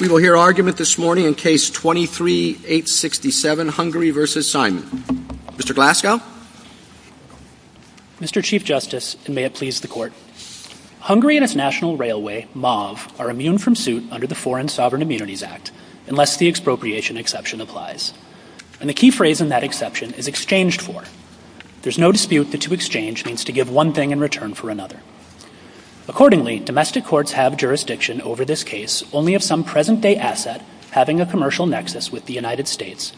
We will hear argument this morning in Case 23-867, Hungary v. Simon. Mr. Glasgow? Mr. Chief Justice, and may it please the Court, Hungary and its national railway, MAV, are immune from suit under the Foreign Sovereign Immunities Act, unless the expropriation exception applies. And the key phrase in that exception is exchanged for. There is no dispute that to exchange means to give one thing in return for another. Accordingly, domestic courts have jurisdiction over this case only if some present-day asset having a commercial nexus with the United States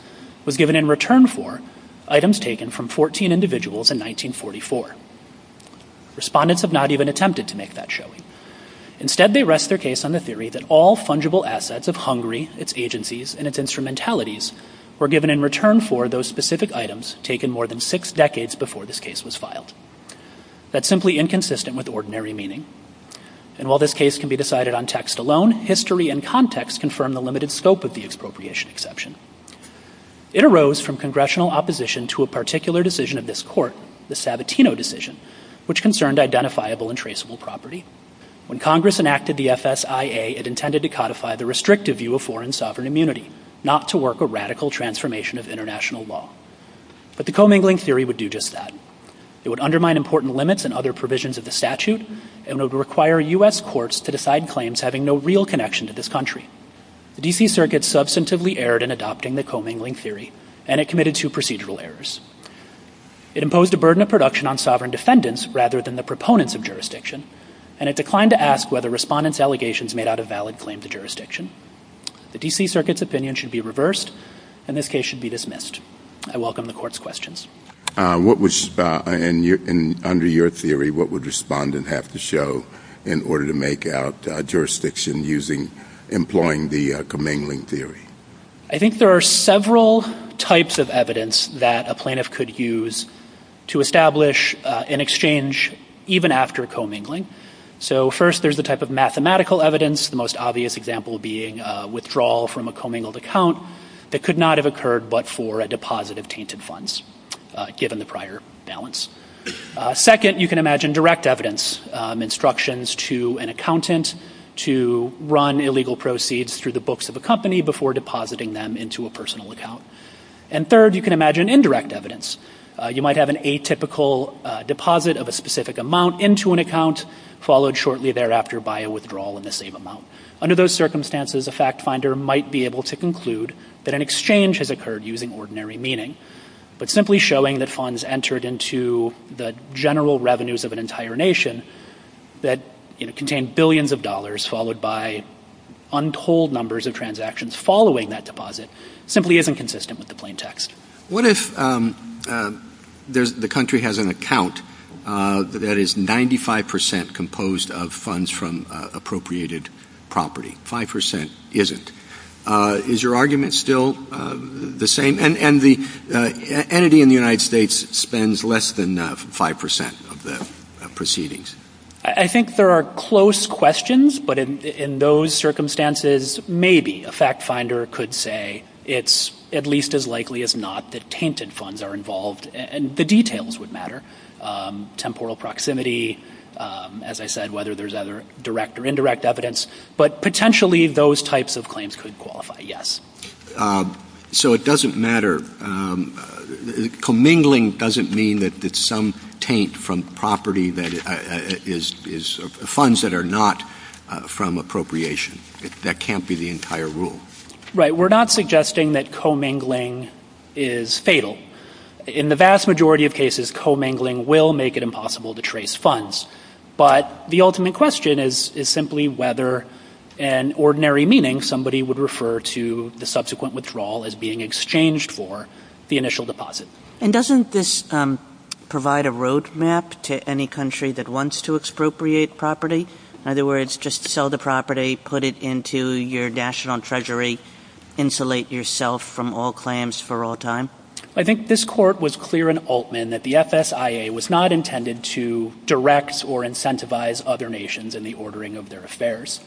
was given in return for items taken from 14 individuals in 1944. Respondents have not even attempted to make that show. Instead, they rest their case on the theory that all fungible assets of Hungary, its agencies, and its instrumentalities were given in return for those specific items taken more than six decades before this case was filed. That's simply inconsistent with ordinary meaning. And while this case can be decided on text alone, history and context confirm the limited scope of the expropriation exception. It arose from Congressional opposition to a particular decision of this Court, the Sabatino decision, which concerned identifiable and traceable property. When Congress enacted the FSIA, it intended to codify the restrictive view of foreign sovereign immunity, not to work a radical transformation of international law. But the commingling theory would do just that. It would undermine important limits and other provisions of the statute and would require U.S. courts to decide claims having no real connection to this country. The D.C. Circuit substantively erred in adopting the commingling theory, and it committed two procedural errors. It imposed a burden of production on sovereign defendants rather than the proponents of jurisdiction, and it declined to ask whether respondents' allegations made out of valid claims of jurisdiction. The D.C. Circuit's opinion should be reversed, and this case should be dismissed. I welcome the Court's questions. And under your theory, what would respondent have to show in order to make out jurisdiction employing the commingling theory? I think there are several types of evidence that a plaintiff could use to establish an exchange even after commingling. So first, there's the type of mathematical evidence, the most obvious example being withdrawal from a commingled account that could not have occurred but for a deposit of tainted funds given the prior balance. Second, you can imagine direct evidence, instructions to an accountant to run illegal proceeds through the books of a company before depositing them into a personal account. And third, you can imagine indirect evidence. You might have an atypical deposit of a specific amount into an account followed shortly thereafter by a withdrawal in the same amount. Under those circumstances, a fact finder might be able to conclude that an exchange has occurred using ordinary meaning, but simply showing that funds entered into the general revenues of an entire nation that contained billions of dollars followed by untold numbers of transactions following that deposit simply isn't consistent with the plain text. What if the country has an account that is 95% composed of funds from appropriated property, 5% isn't? Is your argument still the same? And the entity in the United States spends less than 5% of the proceedings. I think there are close questions, but in those circumstances, maybe a fact finder could say it's at least as likely as not that tainted funds are involved and the details would matter. Temporal proximity, as I said, whether there's direct or indirect evidence, but potentially those types of claims could qualify, yes. So it doesn't matter. Commingling doesn't mean that some taint from property is funds that are not from appropriation. That can't be the entire rule. Right, we're not suggesting that commingling is fatal. In the vast majority of cases, commingling will make it impossible to trace funds. But the ultimate question is simply whether in ordinary meaning somebody would refer to the subsequent withdrawal as being exchanged for the initial deposit. And doesn't this provide a road map to any country that wants to expropriate property? In other words, just sell the property, put it into your national treasury, insulate yourself from all claims for all time? I think this court was clear in Altman that the FSIA was not intended to direct or incentivize other nations in the ordering of their affairs.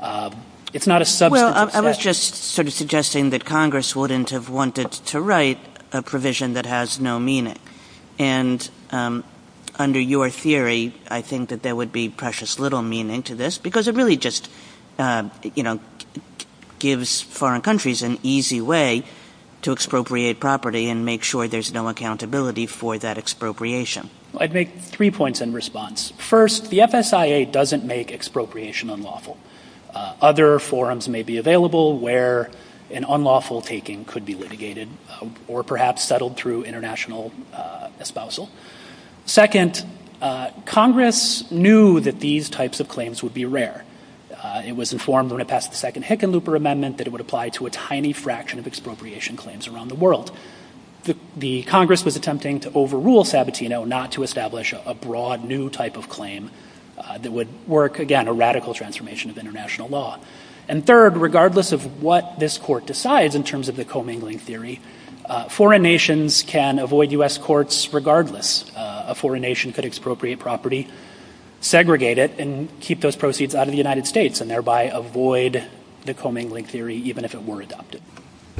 Well, I was just sort of suggesting that Congress wouldn't have wanted to write a provision that has no meaning. And under your theory, I think that there would be precious little meaning to this because it really just gives foreign countries an easy way to expropriate property and make sure there's no accountability for that expropriation. I'd make three points in response. First, the FSIA doesn't make expropriation unlawful. Other forums may be available where an unlawful taking could be litigated or perhaps settled through international espousal. Second, Congress knew that these types of claims would be rare. It was informed when it passed the second Hickenlooper Amendment that it would apply to a tiny fraction of expropriation claims around the world. The Congress was attempting to overrule Sabatino not to establish a broad new type of claim that would work, again, a radical transformation of international law. And third, regardless of what this court decides in terms of the commingling theory, foreign nations can avoid U.S. courts regardless. A foreign nation could expropriate property, segregate it, and keep those proceeds out of the United States and thereby avoid the commingling theory even if it were adopted.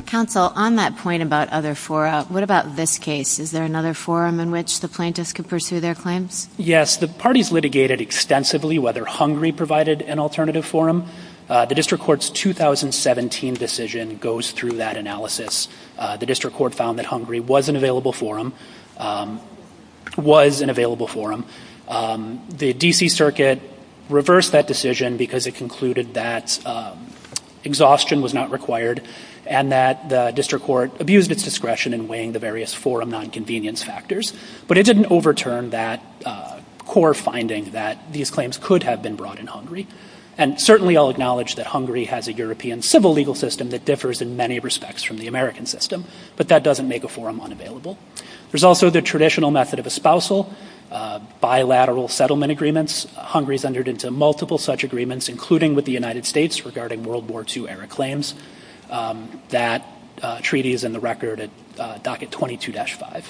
Counsel, on that point about other forums, what about this case? Is there another forum in which the plaintiffs could pursue their claims? Yes, the parties litigated extensively whether Hungary provided an alternative forum. The District Court's 2017 decision goes through that analysis. The District Court found that Hungary was an available forum, was an available forum. The D.C. Circuit reversed that decision because it concluded that exhaustion was not required and that the District Court abused its discretion in weighing the various forum nonconvenience factors. But it didn't overturn that core finding that these claims could have been brought in Hungary. And certainly I'll acknowledge that Hungary has a European civil legal system that differs in many respects from the American system, but that doesn't make a forum unavailable. There's also the traditional method of espousal, bilateral settlement agreements. Hungary's entered into multiple such agreements, including with the United States regarding World War II-era claims. That treaty is in the record at Docket 22-5.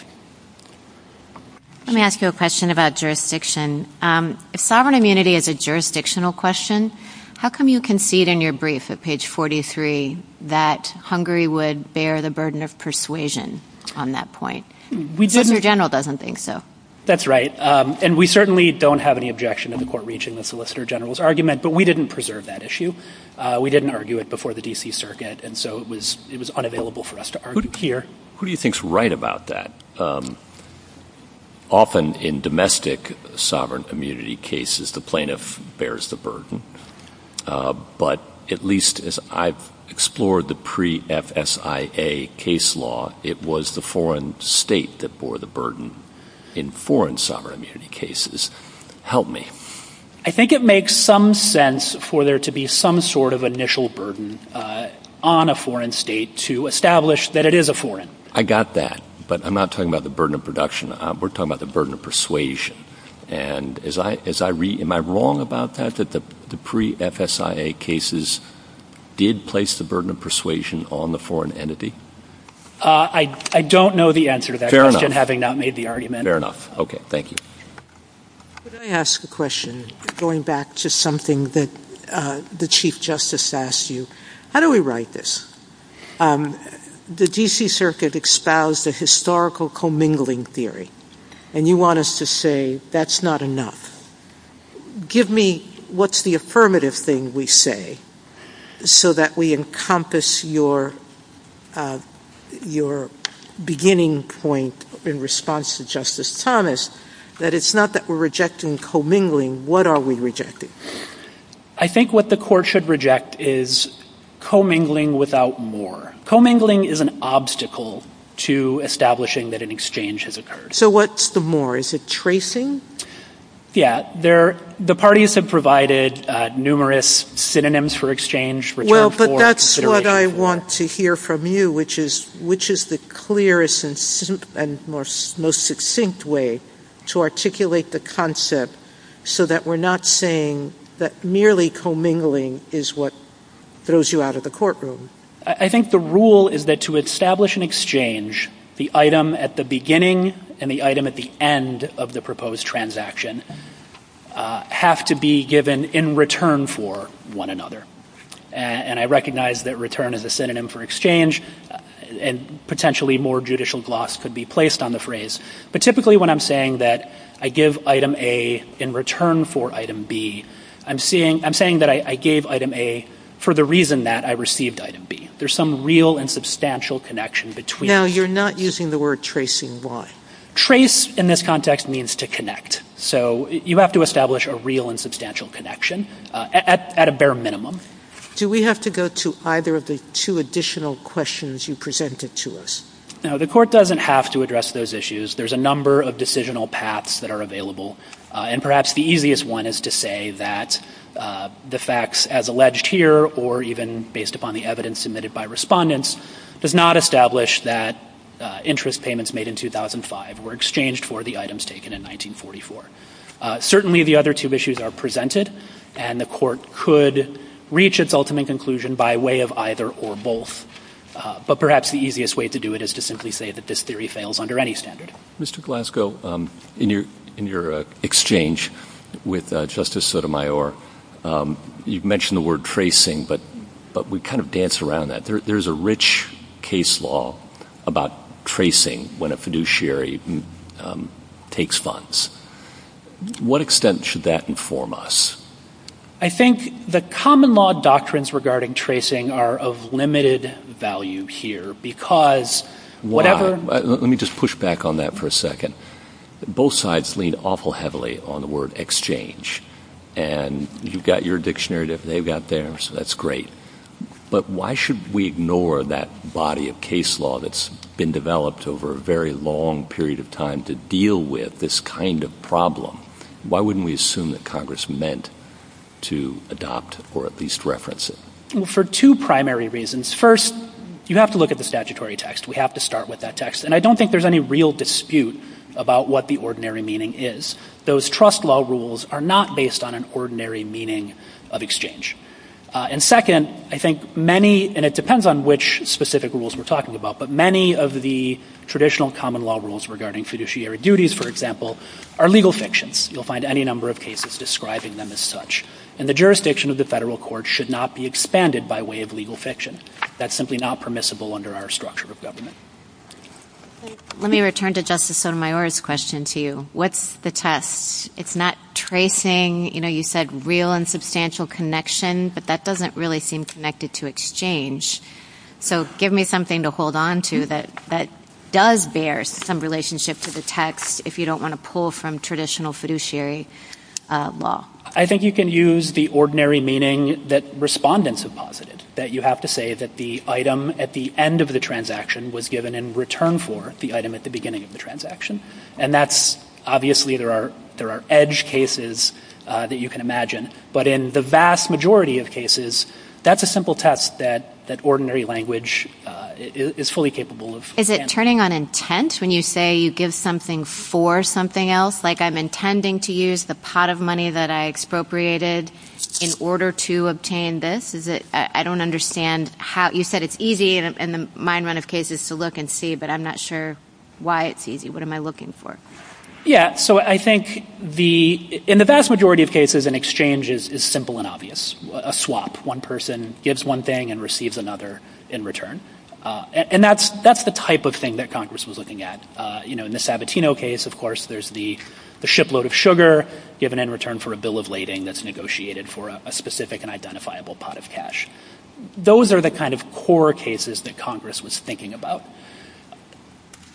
Let me ask you a question about jurisdiction. If sovereign immunity is a jurisdictional question, how come you concede in your brief at page 43 that Hungary would bear the burden of persuasion on that point? The solicitor general doesn't think so. That's right. And we certainly don't have any objection to the court reaching the solicitor general's argument, but we didn't preserve that issue. We didn't argue it before the D.C. Circuit, and so it was unavailable for us to argue it here. Who do you think is right about that? Often in domestic sovereign immunity cases, the plaintiff bears the burden, but at least as I've explored the pre-FSIA case law, it was the foreign state that bore the burden in foreign sovereign immunity cases. Help me. I think it makes some sense for there to be some sort of initial burden on a foreign state to establish that it is a foreign. I got that, but I'm not talking about the burden of production. We're talking about the burden of persuasion. And as I read, am I wrong about that, that the pre-FSIA cases did place the burden of persuasion on the foreign entity? I don't know the answer to that question, having not made the argument. Fair enough. Okay. Thank you. Let me ask a question going back to something that the Chief Justice asked you. How do we write this? The D.C. Circuit espoused a historical commingling theory, and you want us to say that's not enough. Give me what's the affirmative thing we say so that we encompass your beginning point in response to Justice Thomas, that it's not that we're rejecting commingling. What are we rejecting? I think what the Court should reject is commingling without more. Commingling is an obstacle to establishing that an exchange has occurred. So what's the more? Is it tracing? Yeah. The parties have provided numerous synonyms for exchange. Well, but that's what I want to hear from you, which is the clearest and most succinct way to articulate the concept so that we're not saying that merely commingling is what throws you out of the courtroom. I think the rule is that to establish an exchange, the item at the beginning and the item at the end of the proposed transaction have to be given in return for one another. And I recognize that return is a synonym for exchange, and potentially more judicial gloss could be placed on the phrase. But typically when I'm saying that I give item A in return for item B, I'm saying that I gave item A for the reason that I received item B. There's some real and substantial connection between them. Now, you're not using the word tracing. Why? Trace in this context means to connect. So you have to establish a real and substantial connection at a bare minimum. Do we have to go to either of the two additional questions you presented to us? Now, the court doesn't have to address those issues. There's a number of decisional paths that are available, and perhaps the easiest one is to say that the facts as alleged here or even based upon the evidence submitted by respondents does not establish that interest payments made in 2005 were exchanged for the items taken in 1944. Certainly the other two issues are presented, and the court could reach its ultimate conclusion by way of either or both. But perhaps the easiest way to do it is to simply say that this theory fails under any standard. Mr. Glasgow, in your exchange with Justice Sotomayor, you mentioned the word tracing, but we kind of dance around that. There is a rich case law about tracing when a fiduciary takes funds. To what extent should that inform us? I think the common law doctrines regarding tracing are of limited value here because whatever— Let me just push back on that for a second. Both sides lean awful heavily on the word exchange, and you've got your dictionary, they've got theirs, so that's great. But why should we ignore that body of case law that's been developed over a very long period of time to deal with this kind of problem? Why wouldn't we assume that Congress meant to adopt or at least reference it? For two primary reasons. First, you have to look at the statutory text. We have to start with that text. And I don't think there's any real dispute about what the ordinary meaning is. Those trust law rules are not based on an ordinary meaning of exchange. And second, I think many—and it depends on which specific rules we're talking about— but many of the traditional common law rules regarding fiduciary duties, for example, are legal fictions. You'll find any number of cases describing them as such. And the jurisdiction of the federal court should not be expanded by way of legal fiction. That's simply not permissible under our structure of government. Let me return to Justice Sotomayor's question to you. What's the test? It's not tracing, you know, you said real and substantial connection, but that doesn't really seem connected to exchange. So give me something to hold on to that does bear some relationship to the text if you don't want to pull from traditional fiduciary law. I think you can use the ordinary meaning that respondents have posited, that you have to say that the item at the end of the transaction was given in return for the item at the beginning of the transaction. And that's—obviously, there are edge cases that you can imagine. But in the vast majority of cases, that's a simple test that ordinary language is fully capable of. Is it turning on intent when you say you give something for something else, like I'm intending to use the pot of money that I expropriated in order to obtain this? Is it—I don't understand how—you said it's easy in the mind run of cases to look and see, but I'm not sure why it's easy. What am I looking for? Yeah, so I think in the vast majority of cases, an exchange is simple and obvious, a swap. One person gives one thing and receives another in return. And that's the type of thing that Congress was looking at. In the Sabatino case, of course, there's the shipload of sugar given in return for a bill of lading that's negotiated for a specific and identifiable pot of cash. Those are the kind of core cases that Congress was thinking about.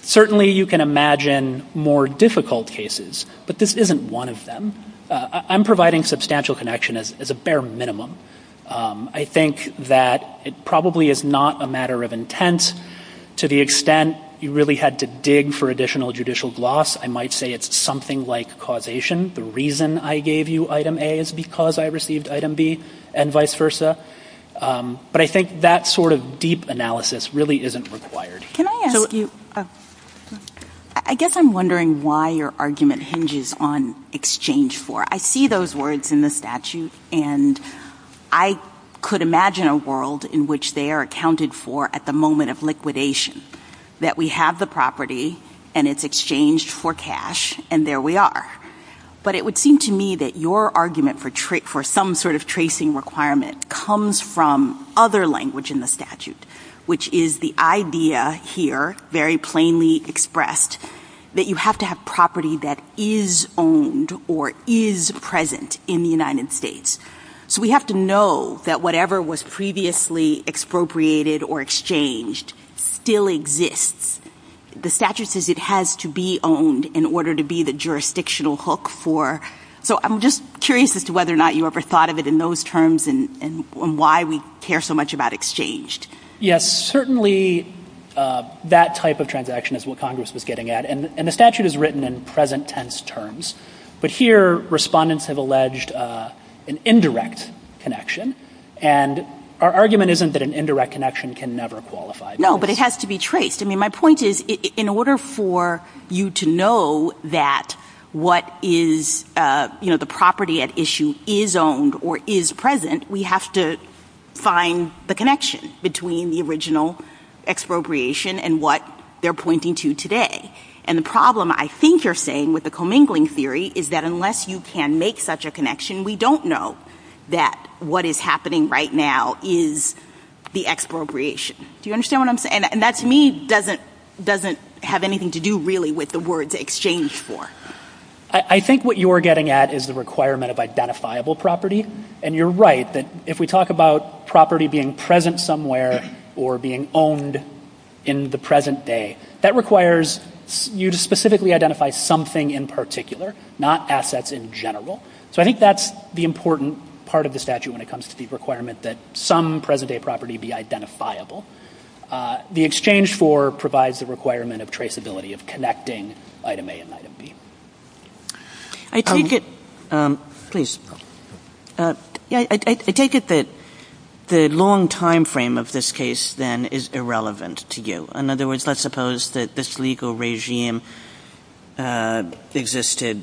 Certainly you can imagine more difficult cases, but this isn't one of them. I'm providing substantial connection as a bare minimum. I think that it probably is not a matter of intent. To the extent you really had to dig for additional judicial gloss, I might say it's something like causation. The reason I gave you item A is because I received item B, and vice versa. But I think that sort of deep analysis really isn't required. I guess I'm wondering why your argument hinges on exchange for. I see those words in the statute, and I could imagine a world in which they are accounted for at the moment of liquidation, that we have the property, and it's exchanged for cash, and there we are. But it would seem to me that your argument for some sort of tracing requirement comes from other language in the statute, which is the idea here, very plainly expressed, that you have to have property that is owned or is present in the United States. So we have to know that whatever was previously expropriated or exchanged still exists. The statute says it has to be owned in order to be the jurisdictional hook for. So I'm just curious as to whether or not you ever thought of it in those terms and why we care so much about exchanged. Yes, certainly that type of transaction is what Congress was getting at. And the statute is written in present tense terms. But here, respondents have alleged an indirect connection. And our argument isn't that an indirect connection can never qualify. No, but it has to be traced. I mean, my point is, in order for you to know that what is the property at issue is owned or is present, we have to find the connection between the original expropriation and what they're pointing to today. And the problem I think you're saying with the commingling theory is that unless you can make such a connection, we don't know that what is happening right now is the expropriation. Do you understand what I'm saying? And that to me doesn't have anything to do really with the word to exchange for. I think what you're getting at is the requirement of identifiable property. And you're right that if we talk about property being present somewhere or being owned in the present day, that requires you to specifically identify something in particular, not assets in general. So I think that's the important part of the statute when it comes to the requirement that some present day property be identifiable. The exchange for provides the requirement of traceability, of connecting item A and item B. I take it that the long time frame of this case then is irrelevant to you. In other words, let's suppose that this legal regime existed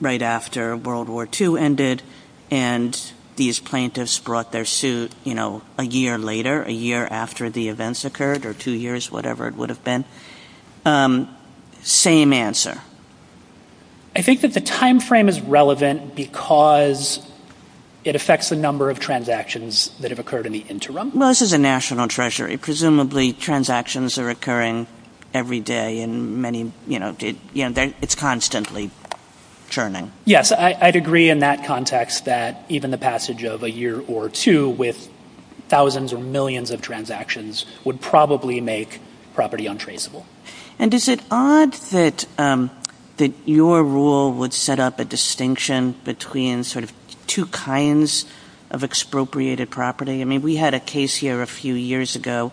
right after World War II ended and these plaintiffs brought their suit a year later, a year after the events occurred or two years, whatever it would have been. Same answer. I think that the time frame is relevant because it affects the number of transactions that have occurred in the interim. This is a national treasury. Presumably transactions are occurring every day and it's constantly churning. Yes, I'd agree in that context that even the passage of a year or two with thousands or millions of transactions would probably make property untraceable. And is it odd that your rule would set up a distinction between sort of two kinds of expropriated property? We had a case here a few years ago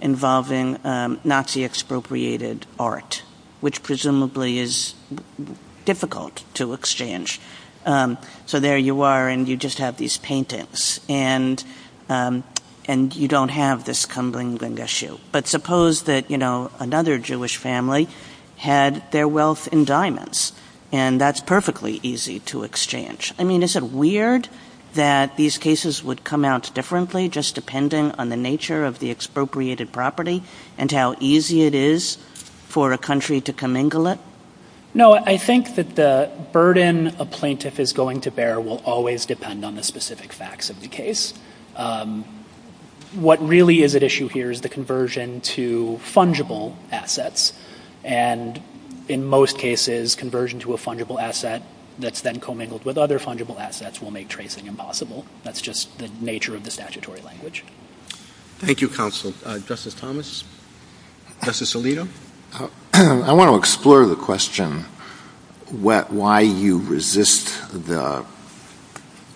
involving Nazi expropriated art, which presumably is difficult to exchange. So there you are and you just have these paintings and you don't have this Kumbling Gengishu. But suppose that another Jewish family had their wealth in diamonds and that's perfectly easy to exchange. I mean, is it weird that these cases would come out differently just depending on the nature of the expropriated property and how easy it is for a country to commingle it? No, I think that the burden a plaintiff is going to bear will always depend on the specific facts of the case. What really is at issue here is the conversion to fungible assets and in most cases, conversion to a fungible asset that's then commingled with other fungible assets will make tracing impossible. That's just the nature of the statutory language. Thank you, counsel. Justice Thomas? Justice Alito? I want to explore the question why you resist the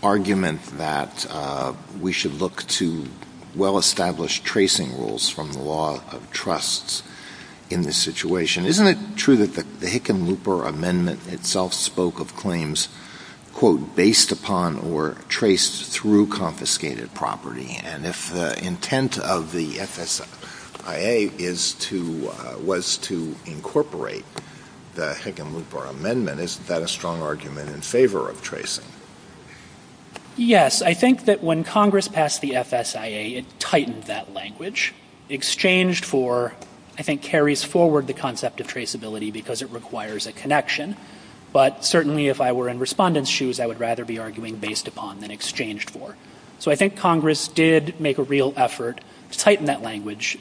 argument that we should look to well-established tracing rules from the law of trusts in this situation. Isn't it true that the Hickam-Looper Amendment itself spoke of claims quote, based upon or traced through confiscated property? And if the intent of the FSIA was to incorporate the Hickam-Looper Amendment, isn't that a strong argument in favor of tracing? Yes, I think that when Congress passed the FSIA, it tightened that language. Exchanged for, I think, carries forward the concept of traceability because it requires a connection. But certainly if I were in respondents' shoes, I would rather be arguing based upon than exchanged for. So I think Congress did make a real effort to tighten that language.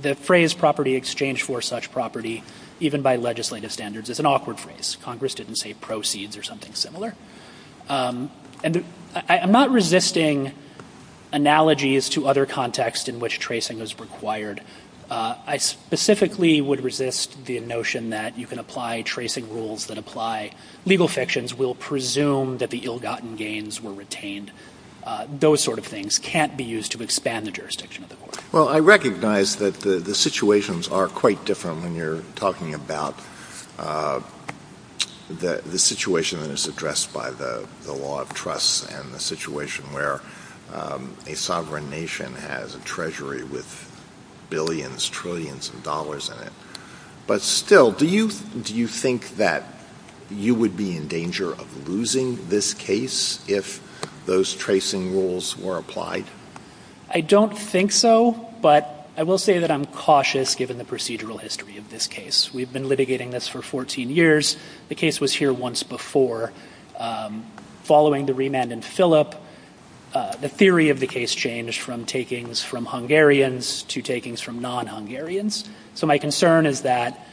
The phrase property exchanged for such property, even by legislative standards, is an awkward phrase. Congress didn't say proceeds or something similar. I'm not resisting analogies to other contexts in which tracing is required. I specifically would resist the notion that you can apply tracing rules that apply. Legal sections will presume that the ill-gotten gains were retained. Those sort of things can't be used to expand the jurisdiction of the court. Well, I recognize that the situations are quite different when you're talking about the situation that is addressed by the law of trust and the situation where a sovereign nation has a treasury with billions, trillions of dollars in it. But still, do you think that you would be in danger of losing this case if those tracing rules were applied? I don't think so, but I will say that I'm cautious given the procedural history of this case. We've been litigating this for 14 years. The case was here once before. Following the remand in Philip, the theory of the case changed from takings from Hungarians to takings from non-Hungarians. So my concern is that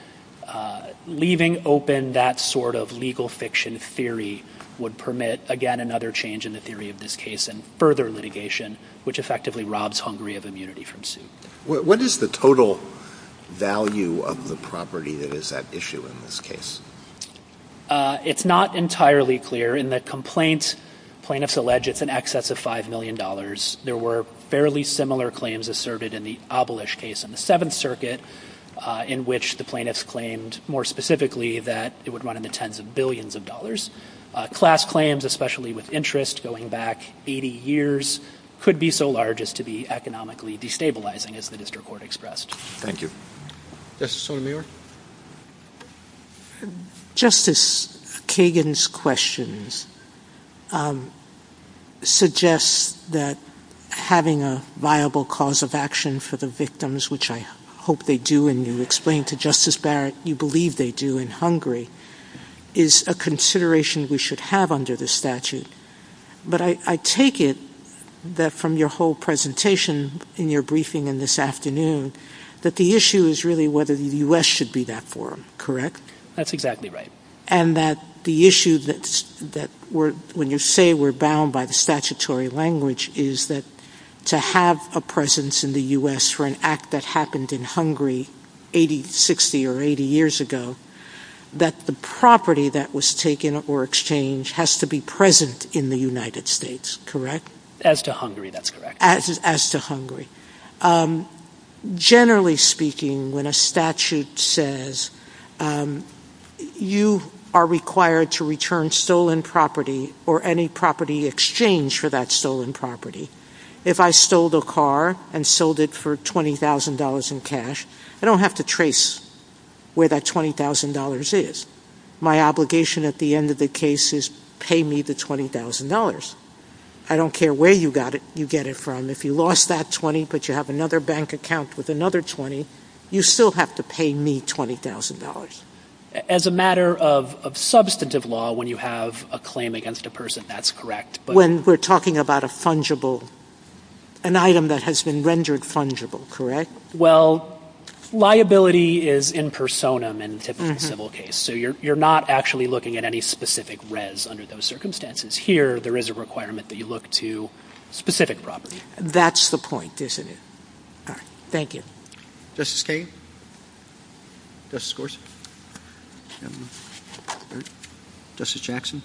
leaving open that sort of legal fiction theory would permit, again, another change in the theory of this case and further litigation, which effectively robs Hungary of immunity from suit. What is the total value of the property that is at issue in this case? It's not entirely clear. In the complaint, plaintiffs allege it's in excess of $5 million. There were fairly similar claims asserted in the Abolish case in the Seventh Circuit, in which the plaintiffs claimed more specifically that it would run into tens of billions of dollars. Class claims, especially with interest going back 80 years, could be so large as to be economically destabilizing, as the district court expressed. Thank you. Justice Sotomayor? Justice Kagan's questions suggest that having a viable cause of action for the victims, which I hope they do, and you explained to Justice Barrett you believe they do in Hungary, is a consideration we should have under the statute. But I take it that from your whole presentation in your briefing in this afternoon that the issue is really whether the U.S. should be that forum, correct? That's exactly right. And that the issue that when you say we're bound by the statutory language is that to have a presence in the U.S. for an act that happened in Hungary 80, 60 or 80 years ago, that the property that was taken or exchanged has to be present in the United States, correct? As to Hungary, that's correct. As to Hungary. Generally speaking, when a statute says you are required to return stolen property or any property exchanged for that stolen property, if I stole the car and sold it for $20,000 in cash, I don't have to trace where that $20,000 is. My obligation at the end of the case is pay me the $20,000. I don't care where you get it from. If you lost that $20,000 but you have another bank account with another $20,000, you still have to pay me $20,000. As a matter of substantive law, when you have a claim against a person, that's correct. When we're talking about a fungible, an item that has been rendered fungible, correct? Well, liability is in personam in a typical civil case. So you're not actually looking at any specific res under those circumstances. Here, there is a requirement that you look to specific property. That's the point, isn't it? All right. Thank you. Justice Kagan? Justice Gorsuch? Justice Jackson?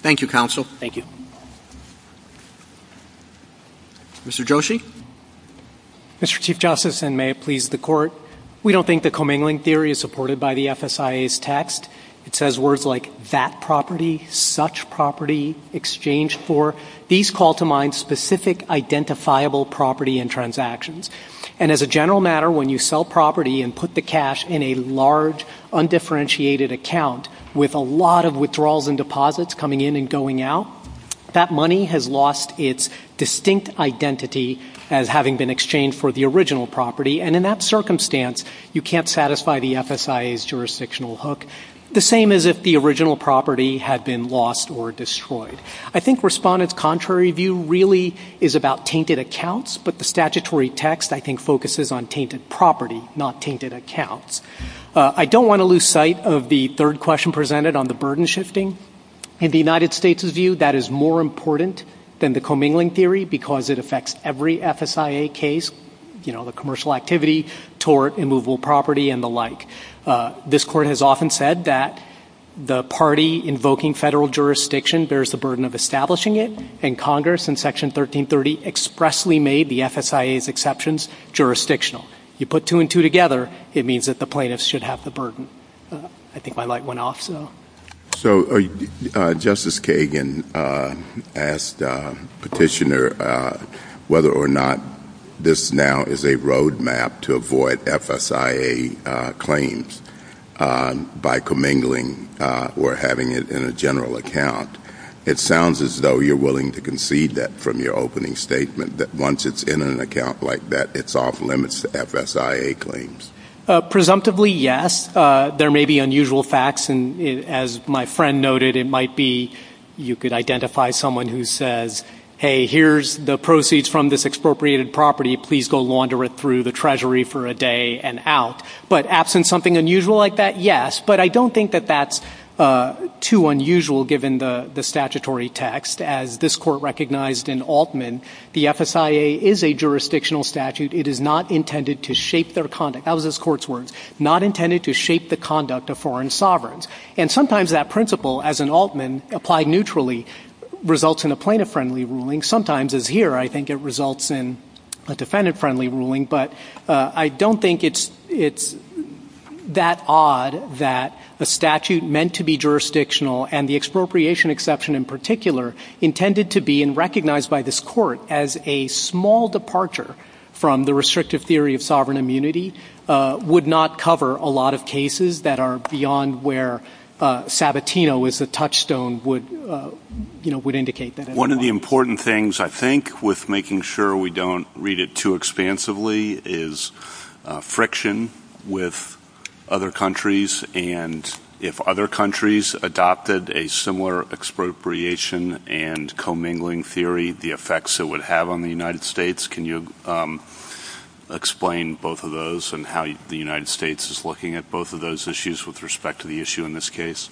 Thank you, counsel. Thank you. Mr. Joshi? Mr. Chief Justice, and may it please the Court, we don't think the commingling theory is supported by the FSIA's text. It says words like that property, such property, exchange for. These call to mind specific identifiable property and transactions. And as a general matter, when you sell property and put the cash in a large, undifferentiated account with a lot of withdrawals and deposits coming in and going out, that money has lost its distinct identity as having been exchanged for the original property. And in that circumstance, you can't satisfy the FSIA's jurisdictional hook, the same as if the original property had been lost or destroyed. I think respondents' contrary view really is about tainted accounts, but the statutory text, I think, focuses on tainted property, not tainted accounts. I don't want to lose sight of the third question presented on the burden shifting. In the United States' view, that is more important than the commingling theory because it affects every FSIA case. You know, the commercial activity, tort, immovable property, and the like. This Court has often said that the party invoking federal jurisdiction bears the burden of establishing it, and Congress in Section 1330 expressly made the FSIA's exceptions jurisdictional. You put two and two together, it means that the plaintiffs should have the burden. I think my light went off. So Justice Kagan asked Petitioner whether or not this now is a road map to avoid FSIA claims by commingling or having it in a general account. It sounds as though you're willing to concede that from your opening statement, that once it's in an account like that, it's off limits to FSIA claims. Presumptively, yes. There may be unusual facts, and as my friend noted, it might be you could identify someone who says, hey, here's the proceeds from this expropriated property, please go launder it through the Treasury for a day and out. But absent something unusual like that, yes. But I don't think that that's too unusual given the statutory text. As this Court recognized in Altman, the FSIA is a jurisdictional statute. It is not intended to shape their conduct. That was this Court's words. Not intended to shape the conduct of foreign sovereigns. And sometimes that principle, as in Altman, applied neutrally, results in a plaintiff-friendly ruling. Sometimes, as here, I think it results in a defendant-friendly ruling. But I don't think it's that odd that the statute meant to be jurisdictional, and the expropriation exception in particular, intended to be recognized by this Court as a small departure from the restrictive theory of sovereign immunity, would not cover a lot of cases that are beyond where Sabatino is a touchstone would indicate that. One of the important things, I think, with making sure we don't read it too expansively is friction with other countries. And if other countries adopted a similar expropriation and commingling theory, the effects it would have on the United States. Can you explain both of those and how the United States is looking at both of those issues with respect to the issue in this case?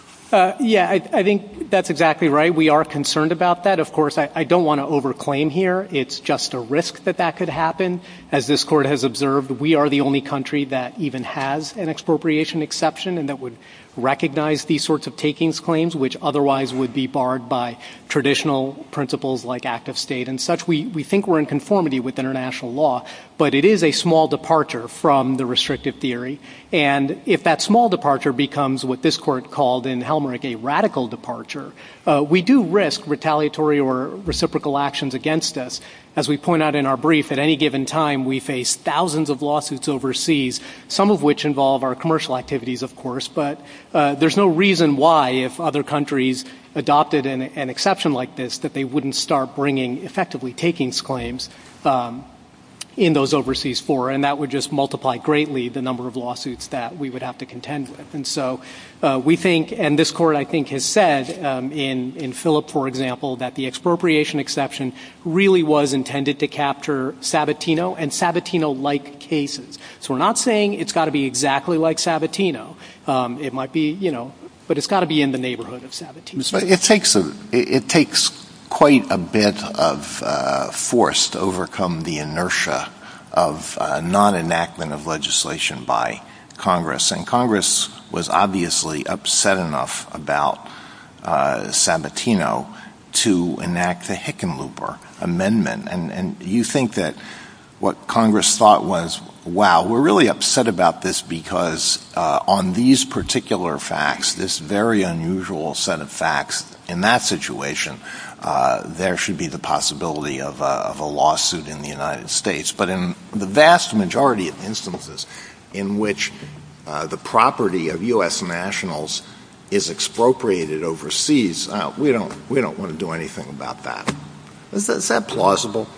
Yeah, I think that's exactly right. We are concerned about that. Of course, I don't want to over-claim here. It's just a risk that that could happen. As this Court has observed, we are the only country that even has an expropriation exception and that would recognize these sorts of takings claims, which otherwise would be barred by traditional principles like active state and such. We think we're in conformity with international law, but it is a small departure from the restrictive theory. And if that small departure becomes what this Court called in Helmerich a radical departure, we do risk retaliatory or reciprocal actions against us. As we point out in our brief, at any given time, we face thousands of lawsuits overseas, some of which involve our commercial activities, of course. But there's no reason why, if other countries adopted an exception like this, that they wouldn't start bringing effectively takings claims in those overseas fora. And that would just multiply greatly the number of lawsuits that we would have to contend with. And this Court, I think, has said in Philip, for example, that the expropriation exception really was intended to capture Sabatino and Sabatino-like cases. So we're not saying it's got to be exactly like Sabatino, but it's got to be in the neighborhood of Sabatino. It takes quite a bit of force to overcome the inertia of non-enactment of legislation by Congress. And Congress was obviously upset enough about Sabatino to enact the Hickenlooper Amendment. And you think that what Congress thought was, wow, we're really upset about this because on these particular facts, this very unusual set of facts in that situation, there should be the possibility of a lawsuit in the United States. But in the vast majority of instances in which the property of U.S. nationals is expropriated overseas, we don't want to do anything about that. Is that plausible?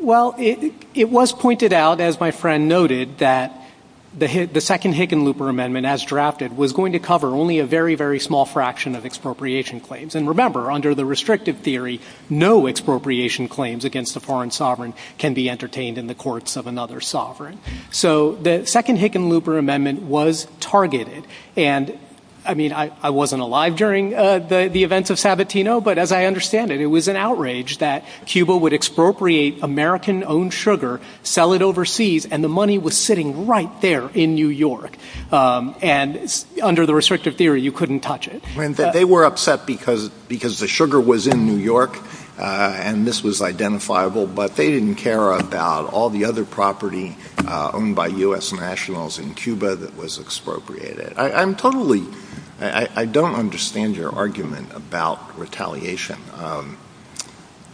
Well, it was pointed out, as my friend noted, that the second Hickenlooper Amendment, as drafted, was going to cover only a very, very small fraction of expropriation claims. And remember, under the restrictive theory, no expropriation claims against a foreign sovereign can be entertained in the courts of another sovereign. So the second Hickenlooper Amendment was targeted. I mean, I wasn't alive during the events of Sabatino, but as I understand it, it was an outrage that Cuba would expropriate American-owned sugar, sell it overseas, and the money was sitting right there in New York. And under the restrictive theory, you couldn't touch it. They were upset because the sugar was in New York, and this was identifiable, but they didn't care about all the other property owned by U.S. nationals in Cuba that was expropriated. I'm totally—I don't understand your argument about retaliation.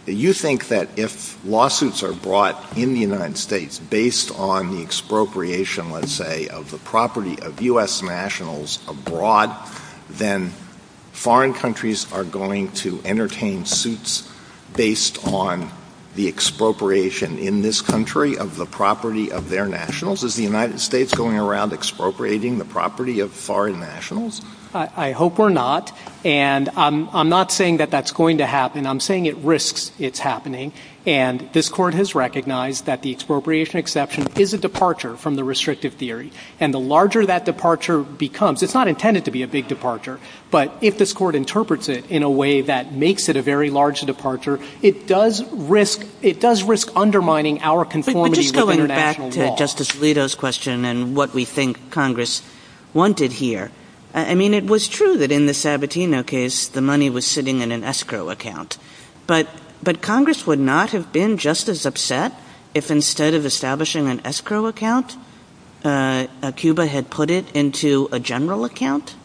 You think that if lawsuits are brought in the United States based on the expropriation, let's say, of the property of U.S. nationals abroad, then foreign countries are going to entertain suits based on the expropriation in this country of the property of their nationals? Is the United States going around expropriating the property of foreign nationals? I hope we're not, and I'm not saying that that's going to happen. I'm saying it risks its happening, and this Court has recognized that the expropriation exception is a departure from the restrictive theory, and the larger that departure becomes—it's not intended to be a big departure, but if this Court interprets it in a way that makes it a very large departure, it does risk undermining our conformity with international law. I agree with Justice Alito's question and what we think Congress wanted here. I mean, it was true that in the Sabatino case, the money was sitting in an escrow account, but Congress would not have been just as upset if instead of establishing an escrow account, Cuba had put it into a general account?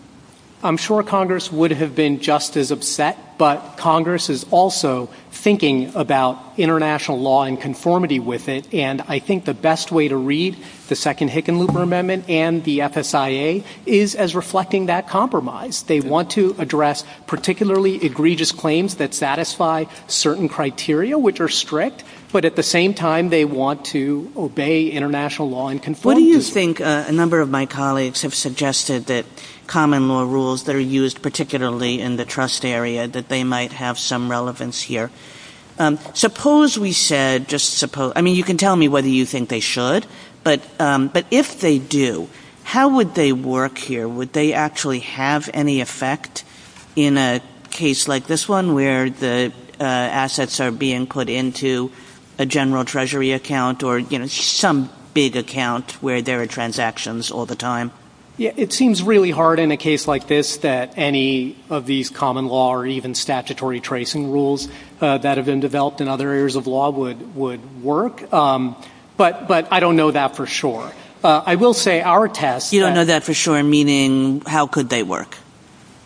I'm sure Congress would have been just as upset, but Congress is also thinking about international law and conformity with it, and I think the best way to read the second Hickenlooper Amendment and the FSIA is as reflecting that compromise. They want to address particularly egregious claims that satisfy certain criteria, which are strict, but at the same time, they want to obey international law and conformity. What do you think—a number of my colleagues have suggested that common law rules that are used particularly in the trust area, that they might have some relevance here. Suppose we said—I mean, you can tell me whether you think they should, but if they do, how would they work here? Would they actually have any effect in a case like this one where the assets are being put into a general treasury account or some big account where there are transactions all the time? It seems really hard in a case like this that any of these common law or even statutory tracing rules that have been developed in other areas of law would work, but I don't know that for sure. I will say our test— You don't know that for sure, meaning how could they work?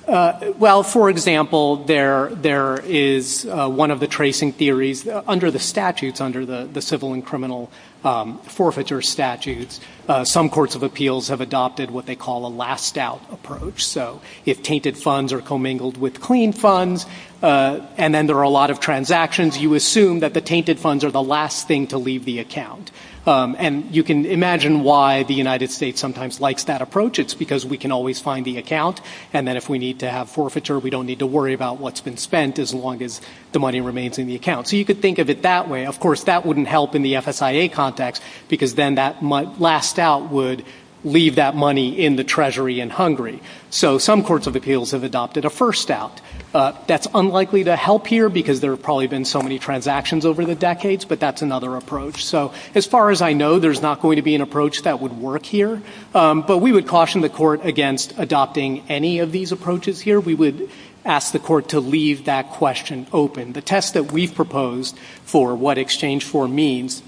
Well, for example, there is one of the tracing theories under the statutes, under the civil and criminal forfeiture statutes. Some courts of appeals have adopted what they call a last-doubt approach, so if tainted funds are commingled with clean funds and then there are a lot of transactions, you assume that the tainted funds are the last thing to leave the account. And you can imagine why the United States sometimes likes that approach. It's because we can always find the account, and then if we need to have forfeiture, we don't need to worry about what's been spent as long as the money remains in the account. So you could think of it that way. Of course, that wouldn't help in the FSIA context because then that last doubt would leave that money in the treasury in Hungary. So some courts of appeals have adopted a first doubt. That's unlikely to help here because there have probably been so many transactions over the decades, but that's another approach. So as far as I know, there's not going to be an approach that would work here, but we would caution the court against adopting any of these approaches here. We would ask the court to leave that question open. The test that we propose for what exchange for means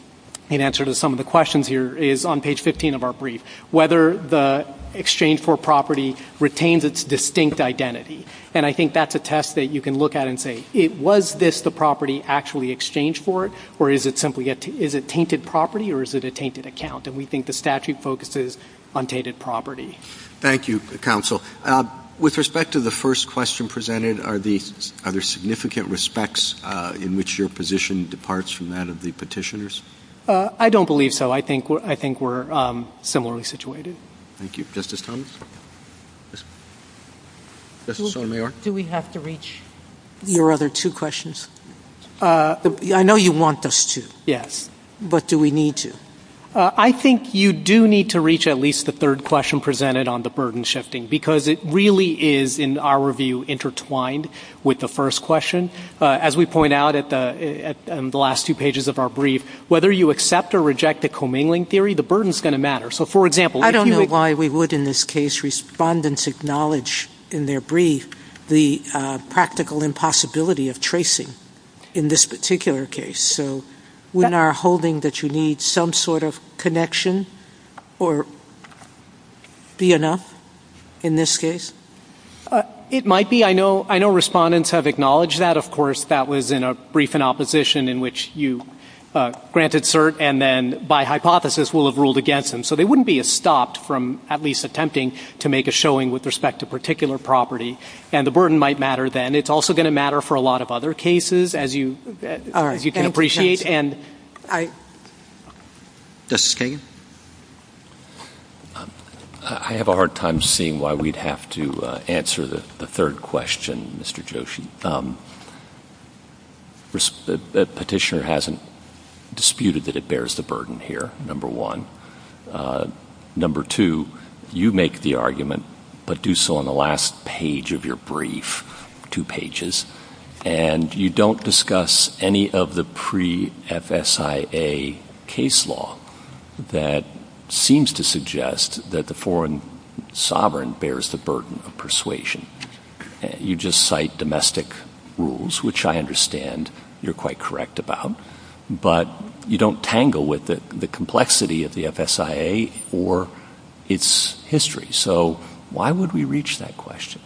in answer to some of the questions here is on page 15 of our brief, whether the exchange for property retains its distinct identity. And I think that's a test that you can look at and say, was this the property actually exchanged for, or is it simply a tainted property, or is it a tainted account? And we think the statute focuses on tainted property. Thank you, counsel. With respect to the first question presented, are there significant respects in which your position departs from that of the petitioners? I don't believe so. I think we're similarly situated. Thank you. Justice Thomas? Justice Sotomayor? Do we have to reach your other two questions? I know you want us to. Yes. But do we need to? I think you do need to reach at least the third question presented on the burden shifting, because it really is, in our view, intertwined with the first question. As we point out in the last two pages of our brief, whether you accept or reject the commingling theory, the burden is going to matter. I don't know why we would in this case respondents acknowledge in their brief the practical impossibility of tracing in this particular case. So we are hoping that you need some sort of connection, or be enough in this case? It might be. I know respondents have acknowledged that. Of course, that was in a brief in opposition in which you granted cert and then by hypothesis will have ruled against them. So they wouldn't be stopped from at least attempting to make a showing with respect to particular property. And the burden might matter then. It's also going to matter for a lot of other cases, as you can appreciate. Justice Gaines? I have a hard time seeing why we'd have to answer the third question, Mr. Joshi. The petitioner hasn't disputed that it bears the burden here, number one. Number two, you make the argument, but do so on the last page of your brief, two pages. And you don't discuss any of the pre-FSIA case law that seems to suggest that the foreign sovereign bears the burden of persuasion. You just cite domestic rules, which I understand you're quite correct about. But you don't tangle with the complexity of the FSIA or its history. So why would we reach that question?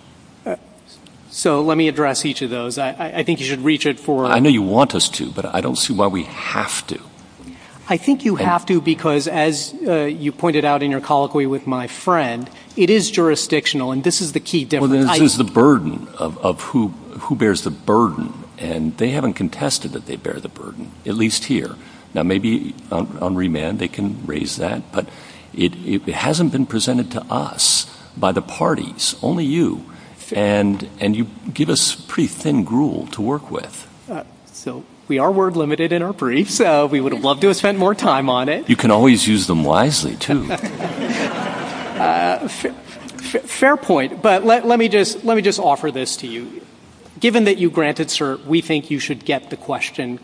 So let me address each of those. I think you should reach it for... I know you want us to, but I don't see why we have to. I think you have to because, as you pointed out in your colloquy with my friend, it is jurisdictional. And this is the key difference. This is the burden of who bears the burden. And they haven't contested that they bear the burden, at least here. Now, maybe on remand they can raise that. But it hasn't been presented to us by the parties, only you. And you give us pretty thin gruel to work with. So we are word limited in our brief. We would have loved to have spent more time on it. You can always use them wisely, too. Fair point. But let me just offer this to you. Given that you grant it, sir, we think you should get the question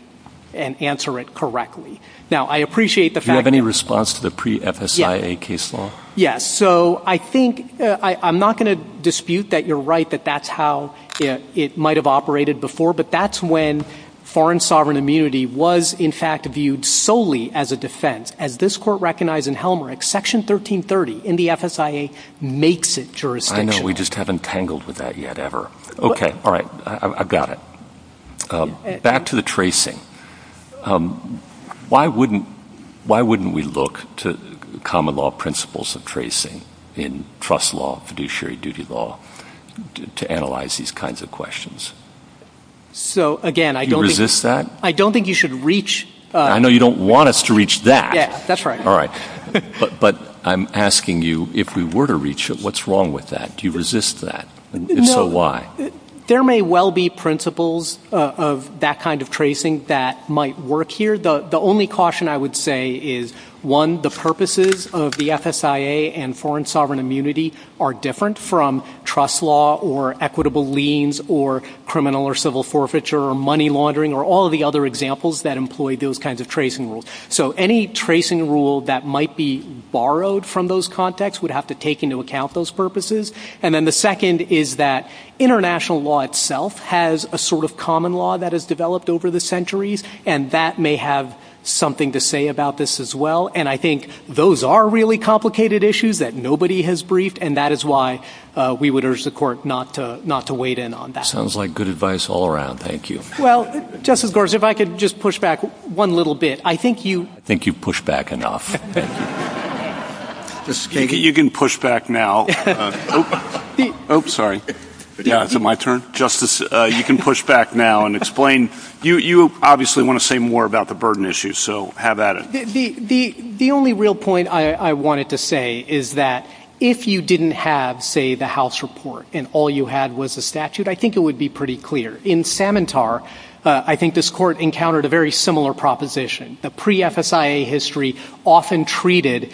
and answer it correctly. Now, I appreciate the fact that... Do you have any response to the pre-FSIA case law? So I think I'm not going to dispute that you're right, that that's how it might have operated before. But that's when foreign sovereign immunity was, in fact, viewed solely as a defense. As this court recognized in Helmreich, Section 1330 in the FSIA makes it jurisdiction. I know. We just haven't tangled with that yet, ever. Okay. All right. I've got it. Back to the tracing. Why wouldn't we look to common law principles of tracing in trust law, fiduciary duty law, to analyze these kinds of questions? So, again, I don't think... Do you resist that? I don't think you should reach... I know you don't want us to reach that. Yeah, that's right. All right. But I'm asking you, if we were to reach it, what's wrong with that? Do you resist that? And if so, why? There may well be principles of that kind of tracing that might work here. The only caution I would say is, one, the purposes of the FSIA and foreign sovereign immunity are different from trust law or equitable liens or criminal or civil forfeiture or money laundering or all the other examples that employ those kinds of tracing rules. So any tracing rule that might be borrowed from those contexts would have to take into account those purposes. And then the second is that international law itself has a sort of common law that has developed over the centuries, and that may have something to say about this as well. And I think those are really complicated issues that nobody has briefed, and that is why we would urge the court not to wade in on that. Sounds like good advice all around. Thank you. Well, Justice Gorsuch, if I could just push back one little bit, I think you... I think you've pushed back enough. You can push back now. Oops, sorry. Yeah, is it my turn? Justice, you can push back now and explain. You obviously want to say more about the burden issue, so have at it. The only real point I wanted to say is that if you didn't have, say, the House report and all you had was the statute, I think it would be pretty clear. In Samantar, I think this court encountered a very similar proposition. A pre-FSIA history often treated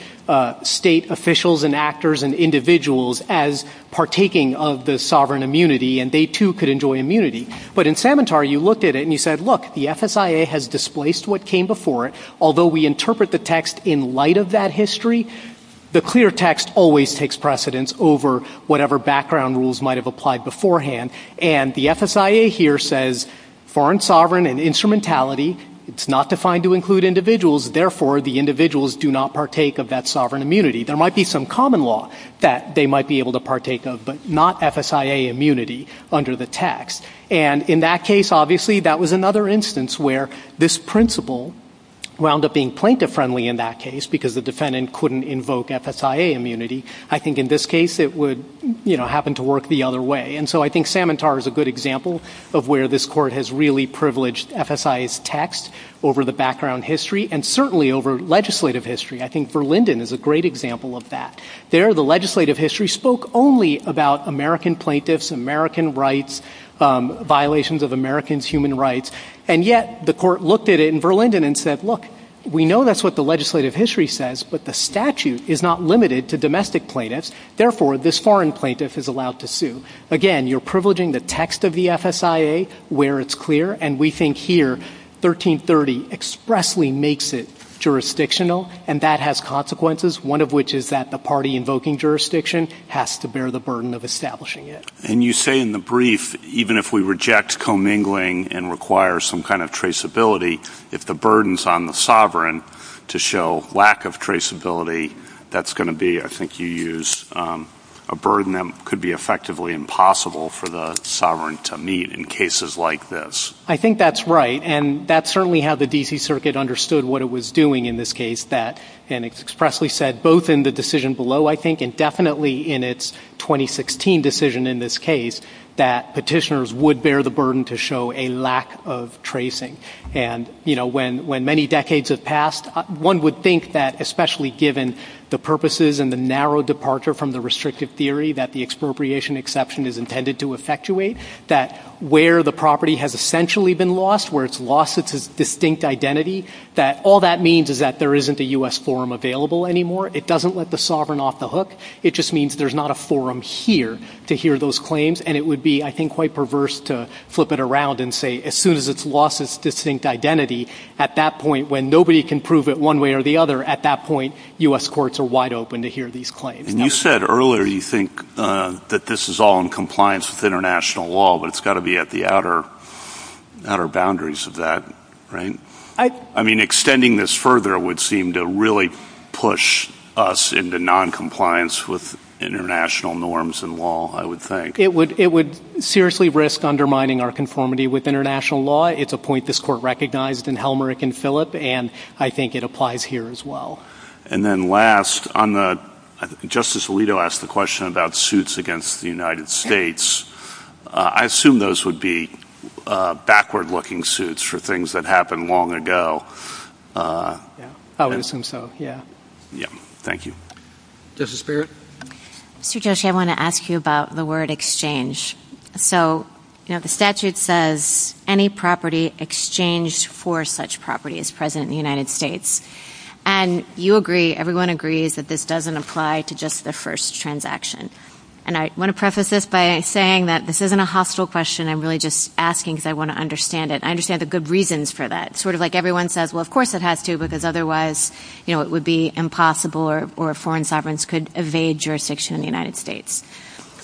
state officials and actors and individuals as partaking of the sovereign immunity, and they, too, could enjoy immunity. But in Samantar, you looked at it and you said, look, the FSIA has displaced what came before it. Although we interpret the text in light of that history, the clear text always takes precedence over whatever background rules might have applied beforehand. And the FSIA here says foreign sovereign and instrumentality. It's not defined to include individuals. Therefore, the individuals do not partake of that sovereign immunity. There might be some common law that they might be able to partake of, but not FSIA immunity under the text. And in that case, obviously, that was another instance where this principle wound up being plaintiff-friendly in that case because the defendant couldn't invoke FSIA immunity. I think in this case it would, you know, happen to work the other way. And so I think Samantar is a good example of where this court has really privileged FSIA's text over the background history and certainly over legislative history. I think Verlinden is a great example of that. There, the legislative history spoke only about American plaintiffs, American rights, violations of Americans' human rights. And yet the court looked at it in Verlinden and said, look, we know that's what the legislative history says, but the statute is not limited to domestic plaintiffs. Therefore, this foreign plaintiff is allowed to sue. Again, you're privileging the text of the FSIA where it's clear, and we think here 1330 expressly makes it jurisdictional, and that has consequences, one of which is that the party invoking jurisdiction has to bear the burden of establishing it. And you say in the brief, even if we reject commingling and require some kind of traceability, if the burden's on the sovereign to show lack of traceability, that's going to be, I think you used, a burden that could be effectively impossible for the sovereign to meet in cases like this. I think that's right, and that's certainly how the D.C. Circuit understood what it was doing in this case, and expressly said both in the decision below, I think, and definitely in its 2016 decision in this case, that petitioners would bear the burden to show a lack of tracing. And, you know, when many decades have passed, one would think that, especially given the purposes and the narrow departure from the restrictive theory that the expropriation exception is intended to effectuate, that where the property has essentially been lost, where it's lost its distinct identity, that all that means is that there isn't a U.S. forum available anymore. It doesn't let the sovereign off the hook. It just means there's not a forum here to hear those claims, and it would be, I think, quite perverse to flip it around and say as soon as it's lost its distinct identity, at that point, when nobody can prove it one way or the other, at that point, U.S. courts are wide open to hear these claims. And you said earlier you think that this is all in compliance with international law, but it's got to be at the outer boundaries of that, right? I mean, extending this further would seem to really push us into noncompliance with international norms and law, I would think. It would seriously risk undermining our conformity with international law. It's a point this court recognized in Helmerick and Philip, and I think it applies here as well. And then last, Justice Alito asked a question about suits against the United States. I assume those would be backward-looking suits for things that happened long ago. I would assume so, yeah. Thank you. Justice Barrett? Mr. Joshi, I want to ask you about the word exchange. So the statute says any property exchanged for such property is present in the United States. And you agree, everyone agrees, that this doesn't apply to just the first transaction. And I want to preface this by saying that this isn't a hostile question. I'm really just asking because I want to understand it. And I understand the good reasons for that. Sort of like everyone says, well, of course it has to, because otherwise it would be impossible or foreign sovereigns could evade jurisdiction in the United States.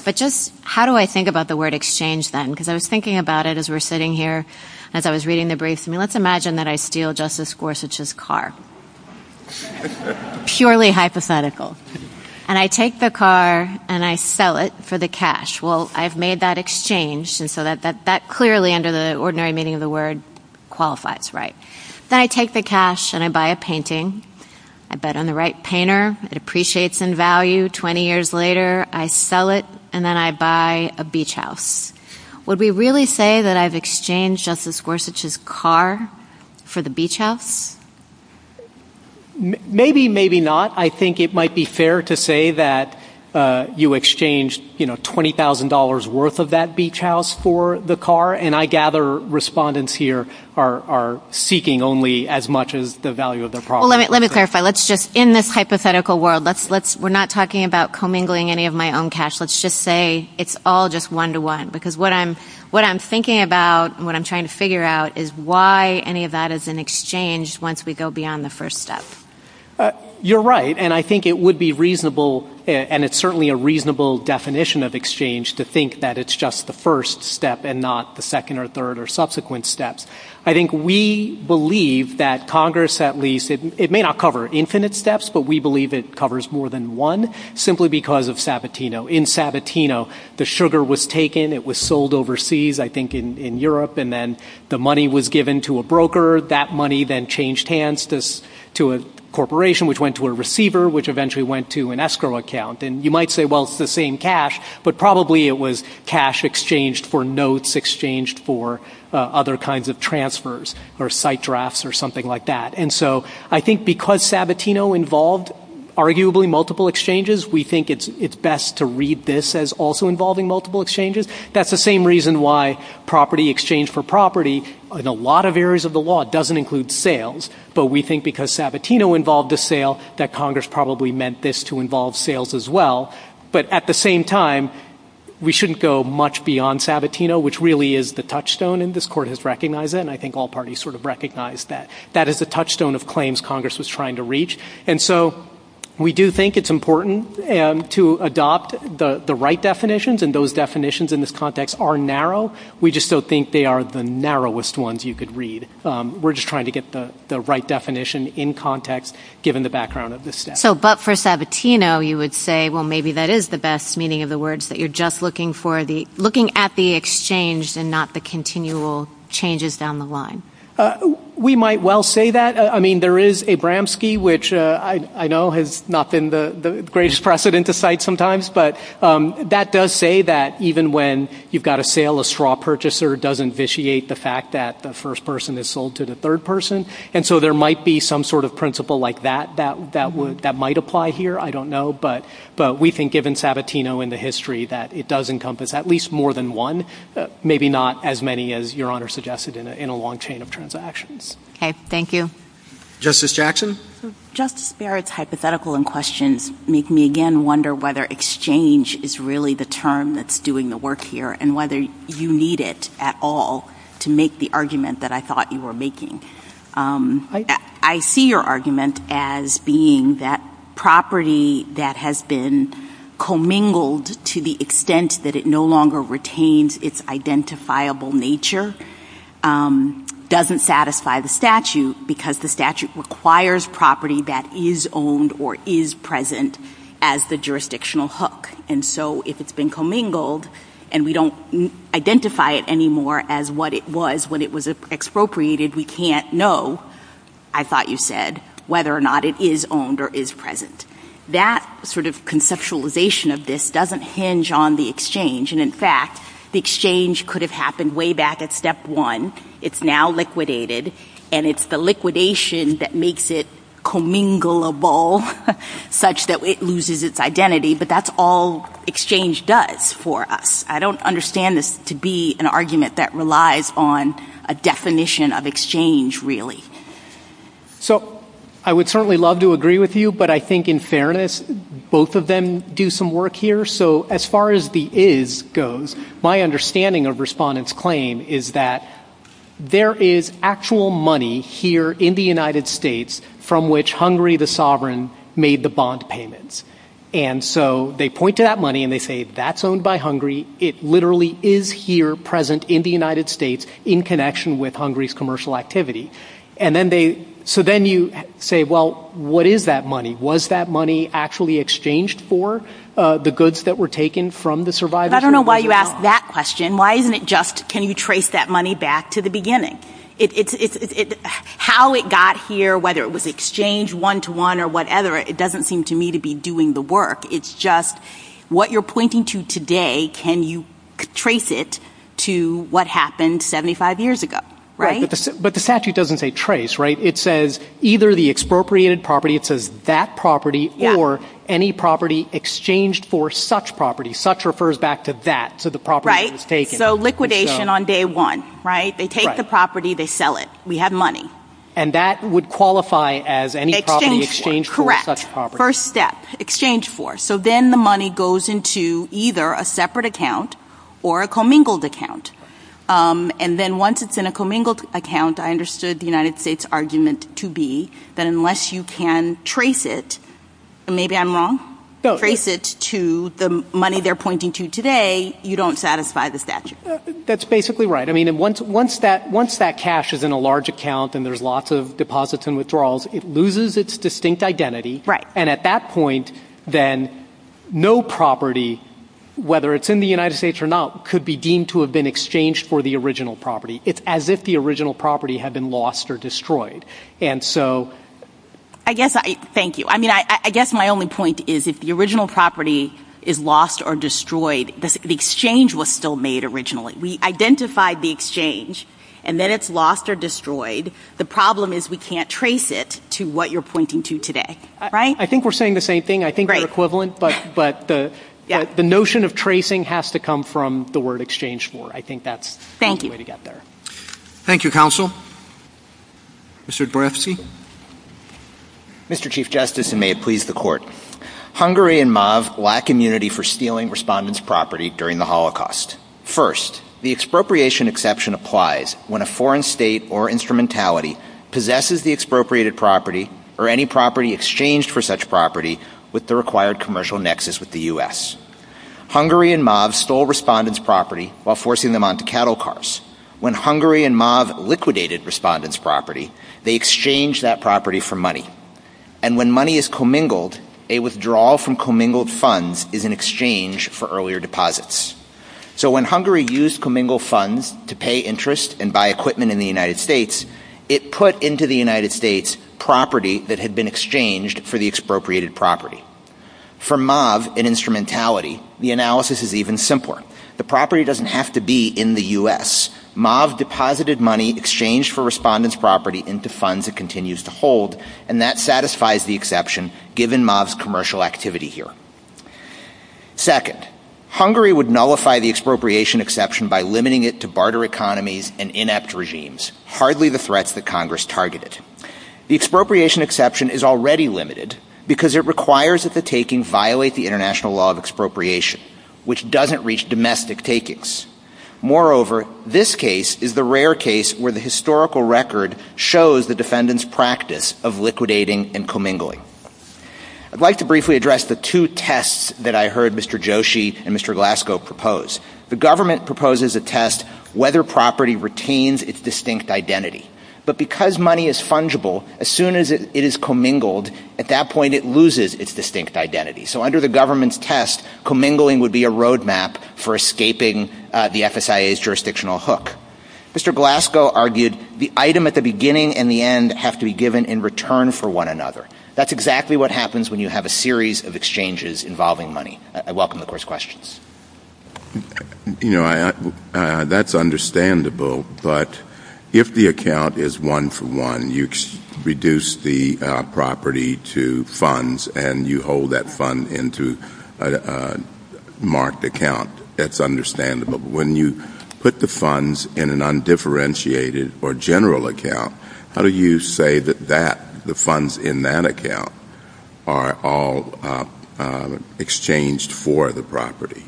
But just how do I think about the word exchange then? Because I was thinking about it as we're sitting here, as I was reading the briefs. I mean, let's imagine that I steal Justice Gorsuch's car. Purely hypothetical. And I take the car and I sell it for the cash. Well, I've made that exchange, and so that clearly, under the ordinary meaning of the word, qualifies, right? Then I take the cash and I buy a painting. I bet on the right painter. It appreciates in value. Twenty years later, I sell it, and then I buy a beach house. Would we really say that I've exchanged Justice Gorsuch's car for the beach house? Maybe, maybe not. I think it might be fair to say that you exchanged $20,000 worth of that beach house for the car. And I gather respondents here are seeking only as much as the value of the property. Well, let me clarify. In this hypothetical world, we're not talking about commingling any of my own cash. Let's just say it's all just one-to-one. Because what I'm thinking about and what I'm trying to figure out is why any of that is an exchange once we go beyond the first step. You're right, and I think it would be reasonable, and it's certainly a reasonable definition of exchange, to think that it's just the first step and not the second or third or subsequent steps. I think we believe that Congress, at least, it may not cover infinite steps, but we believe it covers more than one simply because of Sabatino. In Sabatino, the sugar was taken, it was sold overseas, I think, in Europe, and then the money was given to a broker. That money then changed hands to a corporation, which went to a receiver, which eventually went to an escrow account. And you might say, well, it's the same cash, but probably it was cash exchanged for notes, exchanged for other kinds of transfers or site drafts or something like that. And so I think because Sabatino involved arguably multiple exchanges, we think it's best to read this as also involving multiple exchanges. That's the same reason why property exchange for property in a lot of areas of the law doesn't include sales. But we think because Sabatino involved a sale, that Congress probably meant this to involve sales as well. But at the same time, we shouldn't go much beyond Sabatino, which really is the touchstone, and this court has recognized it, and I think all parties sort of recognize that. That is the touchstone of claims Congress was trying to reach. And so we do think it's important to adopt the right definitions, and those definitions in this context are narrow. We just don't think they are the narrowest ones you could read. We're just trying to get the right definition in context, given the background of this case. So but for Sabatino, you would say, well, maybe that is the best meaning of the words, that you're just looking at the exchange and not the continual changes down the line. We might well say that. I mean, there is a Bramski, which I know has not been the greatest precedent to cite sometimes, but that does say that even when you've got a sale, a straw purchaser does invitiate the fact that the first person is sold to the third person. And so there might be some sort of principle like that that might apply here. I don't know. But we think, given Sabatino and the history, that it does encompass at least more than one, maybe not as many as Your Honor suggested in a long chain of transactions. Okay. Thank you. Justice Jackson? Justice Barrett's hypothetical and questions make me, again, wonder whether exchange is really the term that's doing the work here and whether you need it at all to make the argument that I thought you were making. I see your argument as being that property that has been commingled to the extent that it no longer retains its identifiable nature doesn't satisfy the statute because the statute requires property that is owned or is present as the jurisdictional hook. And so if it's been commingled and we don't identify it anymore as what it was when it was expropriated, we can't know, I thought you said, whether or not it is owned or is present. That sort of conceptualization of this doesn't hinge on the exchange. And, in fact, the exchange could have happened way back at step one. It's now liquidated, and it's the liquidation that makes it comminglable such that it loses its identity. But that's all exchange does for us. I don't understand this to be an argument that relies on a definition of exchange, really. So I would certainly love to agree with you, but I think, in fairness, both of them do some work here. So as far as the is goes, my understanding of Respondent's claim is that there is actual money here in the United States from which Hungary, the sovereign, made the bond payments. And so they point to that money and they say, that's owned by Hungary. It literally is here present in the United States in connection with Hungary's commercial activity. So then you say, well, what is that money? Was that money actually exchanged for the goods that were taken from the survivors? I don't know why you asked that question. Why isn't it just, can you trace that money back to the beginning? How it got here, whether it was exchanged one-to-one or whatever, it doesn't seem to me to be doing the work. It's just, what you're pointing to today, can you trace it to what happened 75 years ago, right? But the statute doesn't say trace, right? It says either the expropriated property, it says that property, or any property exchanged for such property. Such refers back to that, to the property that was taken. They go liquidation on day one, right? They take the property, they sell it. We have money. And that would qualify as any property exchanged for such property. First step, exchange for. So then the money goes into either a separate account or a commingled account. And then once it's in a commingled account, I understood the United States' argument to be that unless you can trace it, Maybe I'm wrong. Trace it to the money they're pointing to today, you don't satisfy the statute. That's basically right. I mean, once that cash is in a large account and there's lots of deposits and withdrawals, it loses its distinct identity. Right. And at that point, then, no property, whether it's in the United States or not, could be deemed to have been exchanged for the original property. It's as if the original property had been lost or destroyed. Thank you. I mean, I guess my only point is if the original property is lost or destroyed, the exchange was still made originally. We identified the exchange, and then it's lost or destroyed. The problem is we can't trace it to what you're pointing to today. Right? I think we're saying the same thing. I think they're equivalent, but the notion of tracing has to come from the word exchange for. I think that's the way to get there. Thank you, counsel. Mr. Dorofsky? Mr. Chief Justice, and may it please the Court, Hungary and MAV lack immunity for stealing respondents' property during the Holocaust. First, the expropriation exception applies when a foreign state or instrumentality possesses the expropriated property or any property exchanged for such property with the required commercial nexus with the U.S. Hungary and MAV stole respondents' property while forcing them onto cattle cars. When Hungary and MAV liquidated respondents' property, they exchanged that property for money. And when money is commingled, a withdrawal from commingled funds is an exchange for earlier deposits. So when Hungary used commingled funds to pay interest and buy equipment in the United States, it put into the United States property that had been exchanged for the expropriated property. For MAV and instrumentality, the analysis is even simpler. The property doesn't have to be in the U.S. MAV deposited money exchanged for respondents' property into funds it continues to hold, and that satisfies the exception given MAV's commercial activity here. Second, Hungary would nullify the expropriation exception by limiting it to barter economies and inept regimes, hardly the threats that Congress targeted. The expropriation exception is already limited because it requires that the taking violate the international law of expropriation, which doesn't reach domestic takings. Moreover, this case is the rare case where the historical record shows the defendant's practice of liquidating and commingling. I'd like to briefly address the two tests that I heard Mr. Joshi and Mr. Glasgow propose. The government proposes a test whether property retains its distinct identity. But because money is fungible, as soon as it is commingled, at that point it loses its distinct identity. So under the government's test, commingling would be a roadmap for escaping the FSIA's jurisdictional hook. Mr. Glasgow argued the item at the beginning and the end have to be given in return for one another. That's exactly what happens when you have a series of exchanges involving money. I welcome the court's questions. You know, that's understandable. But if the account is one for one, you reduce the property to funds and you hold that fund into a marked account, that's understandable. But when you put the funds in an undifferentiated or general account, how do you say that the funds in that account are all exchanged for the property?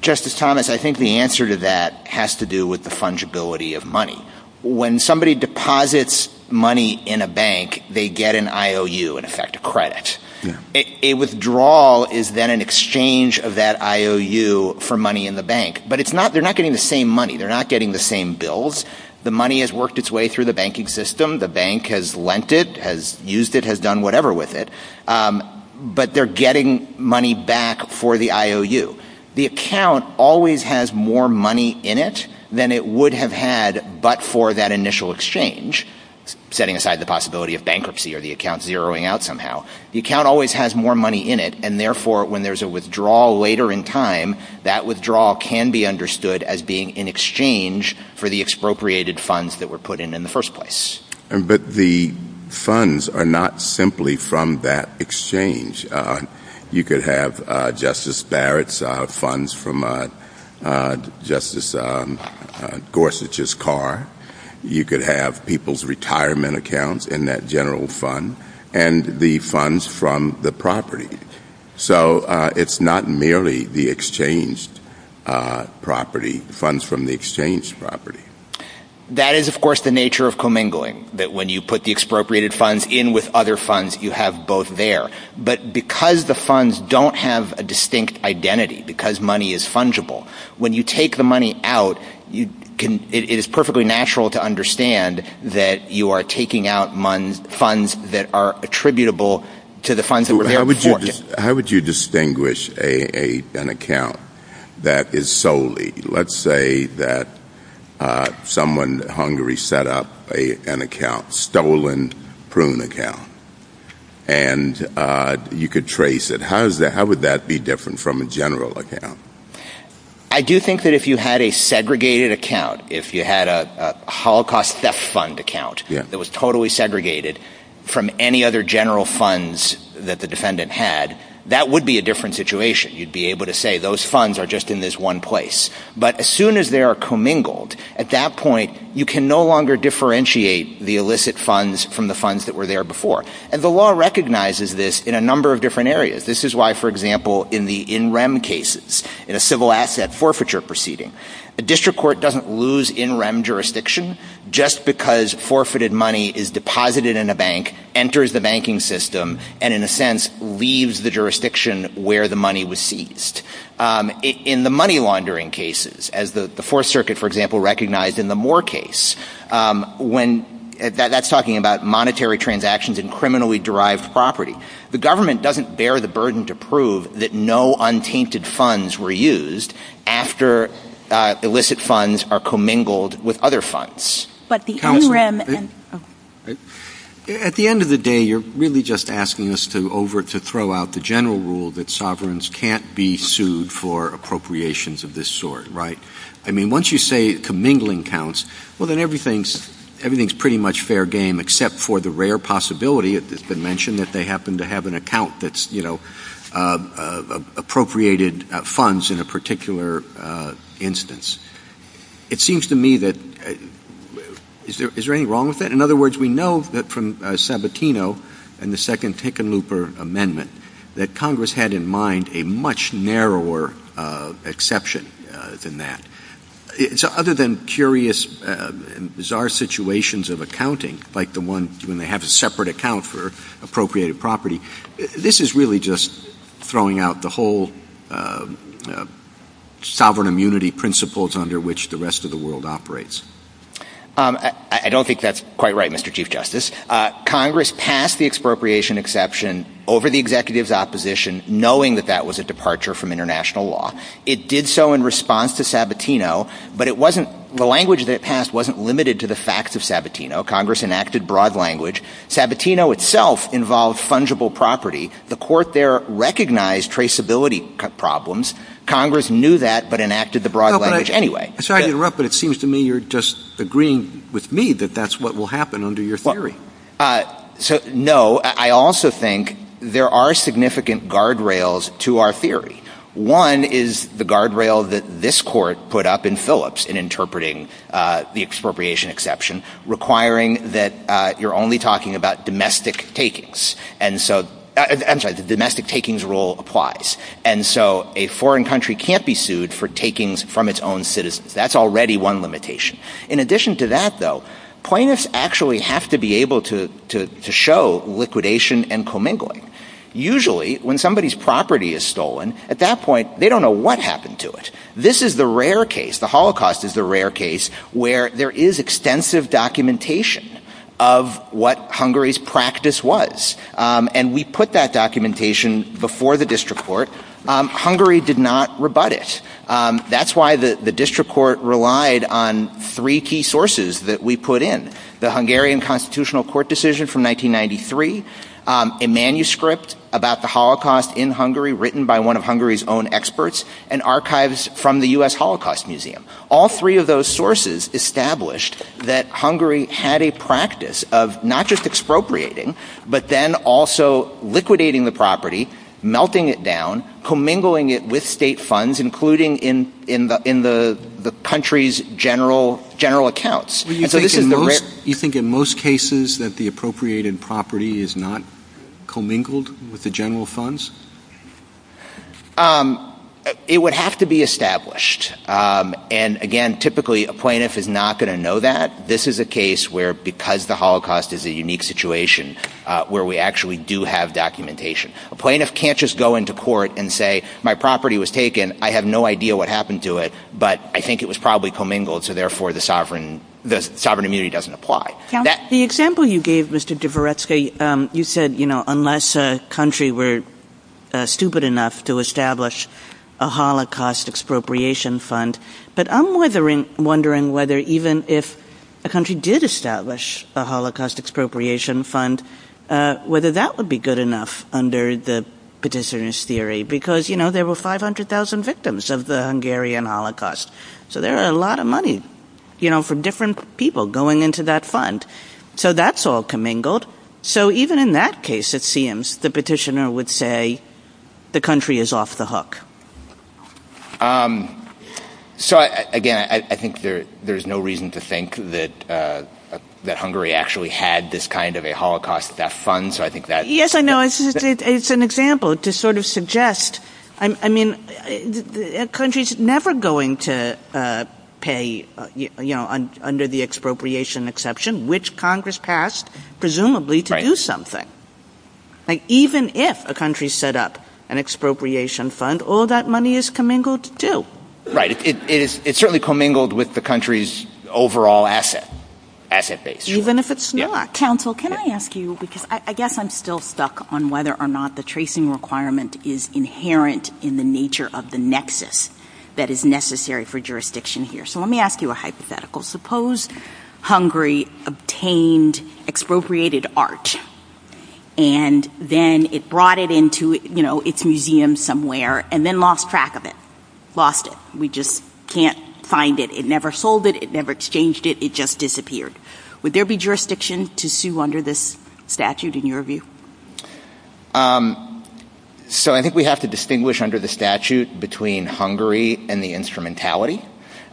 Justice Thomas, I think the answer to that has to do with the fungibility of money. When somebody deposits money in a bank, they get an IOU, in effect, a credit. A withdrawal is then an exchange of that IOU for money in the bank. But they're not getting the same money. They're not getting the same bills. The money has worked its way through the banking system. The bank has lent it, has used it, has done whatever with it. But they're getting money back for the IOU. The account always has more money in it than it would have had but for that initial exchange, setting aside the possibility of bankruptcy or the account zeroing out somehow. The account always has more money in it and, therefore, when there's a withdrawal later in time, that withdrawal can be understood as being in exchange for the expropriated funds that were put in in the first place. But the funds are not simply from that exchange. You could have Justice Barrett's funds from Justice Gorsuch's car. You could have people's retirement accounts in that general fund. And the funds from the property. So it's not merely the exchanged property, funds from the exchanged property. That is, of course, the nature of commingling, that when you put the expropriated funds in with other funds, you have both there. But because the funds don't have a distinct identity, because money is fungible, when you take the money out, it is perfectly natural to understand that you are taking out funds that are attributable to the funds that were there before. How would you distinguish an account that is solely, let's say that someone, Hungary, set up an account, stolen prune account, and you could trace it, how would that be different from a general account? I do think that if you had a segregated account, if you had a Holocaust theft fund account, that was totally segregated from any other general funds that the defendant had, that would be a different situation. You'd be able to say those funds are just in this one place. But as soon as they are commingled, at that point, you can no longer differentiate the illicit funds from the funds that were there before. And the law recognizes this in a number of different areas. This is why, for example, in the in-rem cases, in a civil asset forfeiture proceeding, a district court doesn't lose in-rem jurisdiction just because forfeited money is deposited in a bank, enters the banking system, and in a sense, leaves the jurisdiction where the money was seized. In the money laundering cases, as the Fourth Circuit, for example, recognized in the Moore case, that's talking about monetary transactions and criminally derived property. The government doesn't bear the burden to prove that no untainted funds were used after illicit funds are commingled with other funds. At the end of the day, you're really just asking us to throw out the general rule that sovereigns can't be sued for appropriations of this sort, right? I mean, once you say commingling counts, well, then everything's pretty much fair game, except for the rare possibility that they happen to have an account that's appropriated funds in a particular instance. It seems to me that, is there anything wrong with that? In other words, we know that from Sabatino and the second Tickenlooper Amendment, that Congress had in mind a much narrower exception than that. Other than curious and bizarre situations of accounting, like the one when they have a separate account for appropriated property, this is really just throwing out the whole sovereign immunity principles under which the rest of the world operates. I don't think that's quite right, Mr. Chief Justice. Congress passed the expropriation exception over the executive's opposition, knowing that that was a departure from international law. It did so in response to Sabatino, but the language that it passed wasn't limited to the facts of Sabatino. Congress enacted broad language. Sabatino itself involved fungible property. The court there recognized traceability problems. Congress knew that, but enacted the broad language anyway. I'm sorry to interrupt, but it seems to me you're just agreeing with me that that's what will happen under your theory. No, I also think there are significant guardrails to our theory. One is the guardrail that this court put up in Phillips in interpreting the expropriation exception, requiring that you're only talking about domestic takings. I'm sorry, the domestic takings rule applies, and so a foreign country can't be sued for takings from its own citizens. That's already one limitation. In addition to that, though, plaintiffs actually have to be able to show liquidation and commingling. Usually, when somebody's property is stolen, at that point they don't know what happened to it. This is the rare case, the Holocaust is the rare case, where there is extensive documentation of what Hungary's practice was, and we put that documentation before the district court. Hungary did not rebut it. That's why the district court relied on three key sources that we put in. The Hungarian Constitutional Court decision from 1993, a manuscript about the Holocaust in Hungary written by one of Hungary's own experts, and archives from the U.S. Holocaust Museum. All three of those sources established that Hungary had a practice of not just expropriating, but then also liquidating the property, melting it down, commingling it with state funds, including in the country's general accounts. Do you think in most cases that the appropriated property is not commingled with the general funds? It would have to be established. Again, typically a plaintiff is not going to know that. This is a case where, because the Holocaust is a unique situation, where we actually do have documentation. A plaintiff can't just go into court and say, my property was taken, I have no idea what happened to it, but I think it was probably commingled, so therefore the sovereign immunity doesn't apply. The example you gave, Mr. Dvoretsky, you said unless a country were stupid enough to establish a Holocaust expropriation fund, but I'm wondering whether even if a country did establish a Holocaust expropriation fund, whether that would be good enough under the petitioner's theory, because there were 500,000 victims of the Hungarian Holocaust, so there was a lot of money from different people going into that fund. So that's all commingled. So even in that case, it seems, the petitioner would say the country is off the hook. So again, I think there's no reason to think that Hungary actually had this kind of a Holocaust death fund. Yes, I know, it's an example to sort of suggest, I mean, a country's never going to pay, under the expropriation exception, which Congress passed, presumably, to do something. Even if a country set up an expropriation fund, all that money is commingled too. Right, it's certainly commingled with the country's overall asset base. Even if it's not. Counsel, can I ask you, because I guess I'm still stuck on whether or not the tracing requirement is inherent in the nature of the nexus that is necessary for jurisdiction here. So let me ask you a hypothetical. Suppose Hungary obtained expropriated art, and then it brought it into its museum somewhere, and then lost track of it. Lost it. We just can't find it. It never sold it, it never exchanged it, it just disappeared. Would there be jurisdiction to sue under this statute, in your view? So I think we have to distinguish under the statute between Hungary and the instrumentality.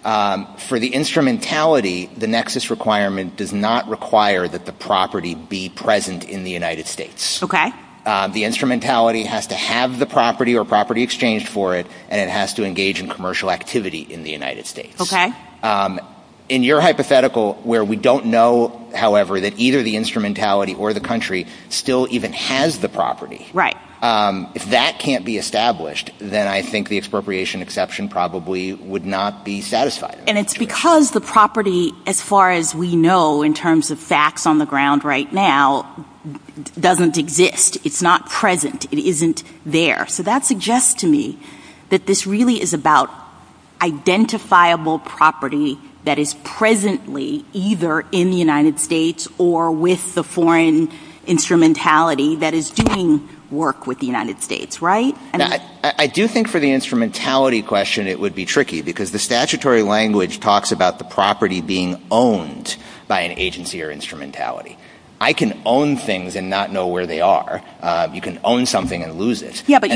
For the instrumentality, the nexus requirement does not require that the property be present in the United States. The instrumentality has to have the property or property exchanged for it, and it has to engage in commercial activity in the United States. In your hypothetical, where we don't know, however, that either the instrumentality or the country still even has the property, if that can't be established, then I think the expropriation exception probably would not be satisfied. And it's because the property, as far as we know in terms of facts on the ground right now, doesn't exist. It's not present. It isn't there. So that suggests to me that this really is about identifiable property that is presently either in the United States or with the foreign instrumentality that is doing work with the United States, right? I do think for the instrumentality question it would be tricky, because the statutory language talks about the property being owned by an agency or instrumentality. I can own things and not know where they are. You can own something and lose it. Yeah, but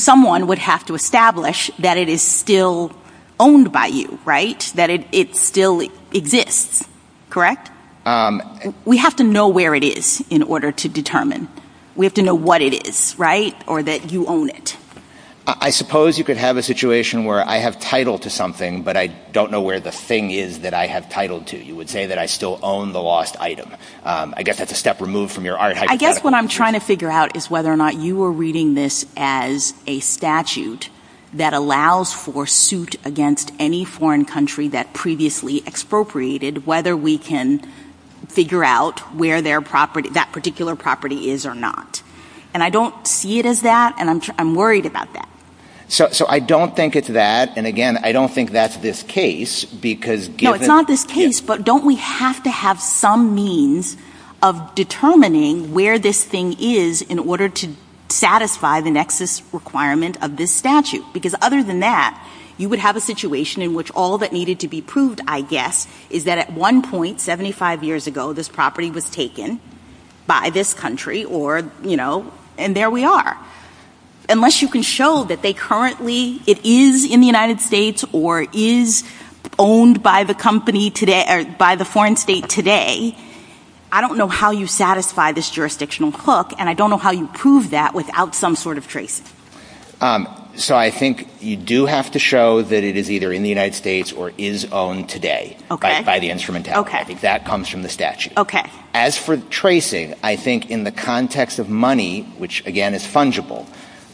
someone would have to establish that it is still owned by you, right? That it still exists, correct? We have to know where it is in order to determine. We have to know what it is, right? Or that you own it. I suppose you could have a situation where I have title to something, but I don't know where the thing is that I have title to. You would say that I still own the lost item. I guess that's a step removed from your hypothetical. I guess what I'm trying to figure out is whether or not you are reading this as a statute that allows for suit against any foreign country that previously expropriated, whether we can figure out where that particular property is or not. And I don't see it as that, and I'm worried about that. So I don't think it's that, and again, I don't think that's this case. No, it's not this case, but don't we have to have some means of determining where this thing is in order to satisfy the nexus requirement of this statute? Because other than that, you would have a situation in which all that needed to be proved, I guess, is that at one point, 75 years ago, this property was taken by this country, and there we are. Unless you can show that it is in the United States or is owned by the foreign state today, I don't know how you satisfy this jurisdictional hook, and I don't know how you prove that without some sort of tracing. So I think you do have to show that it is either in the United States or is owned today by the instrumentality. I think that comes from the statute. As for tracing, I think in the context of money, which again is fungible,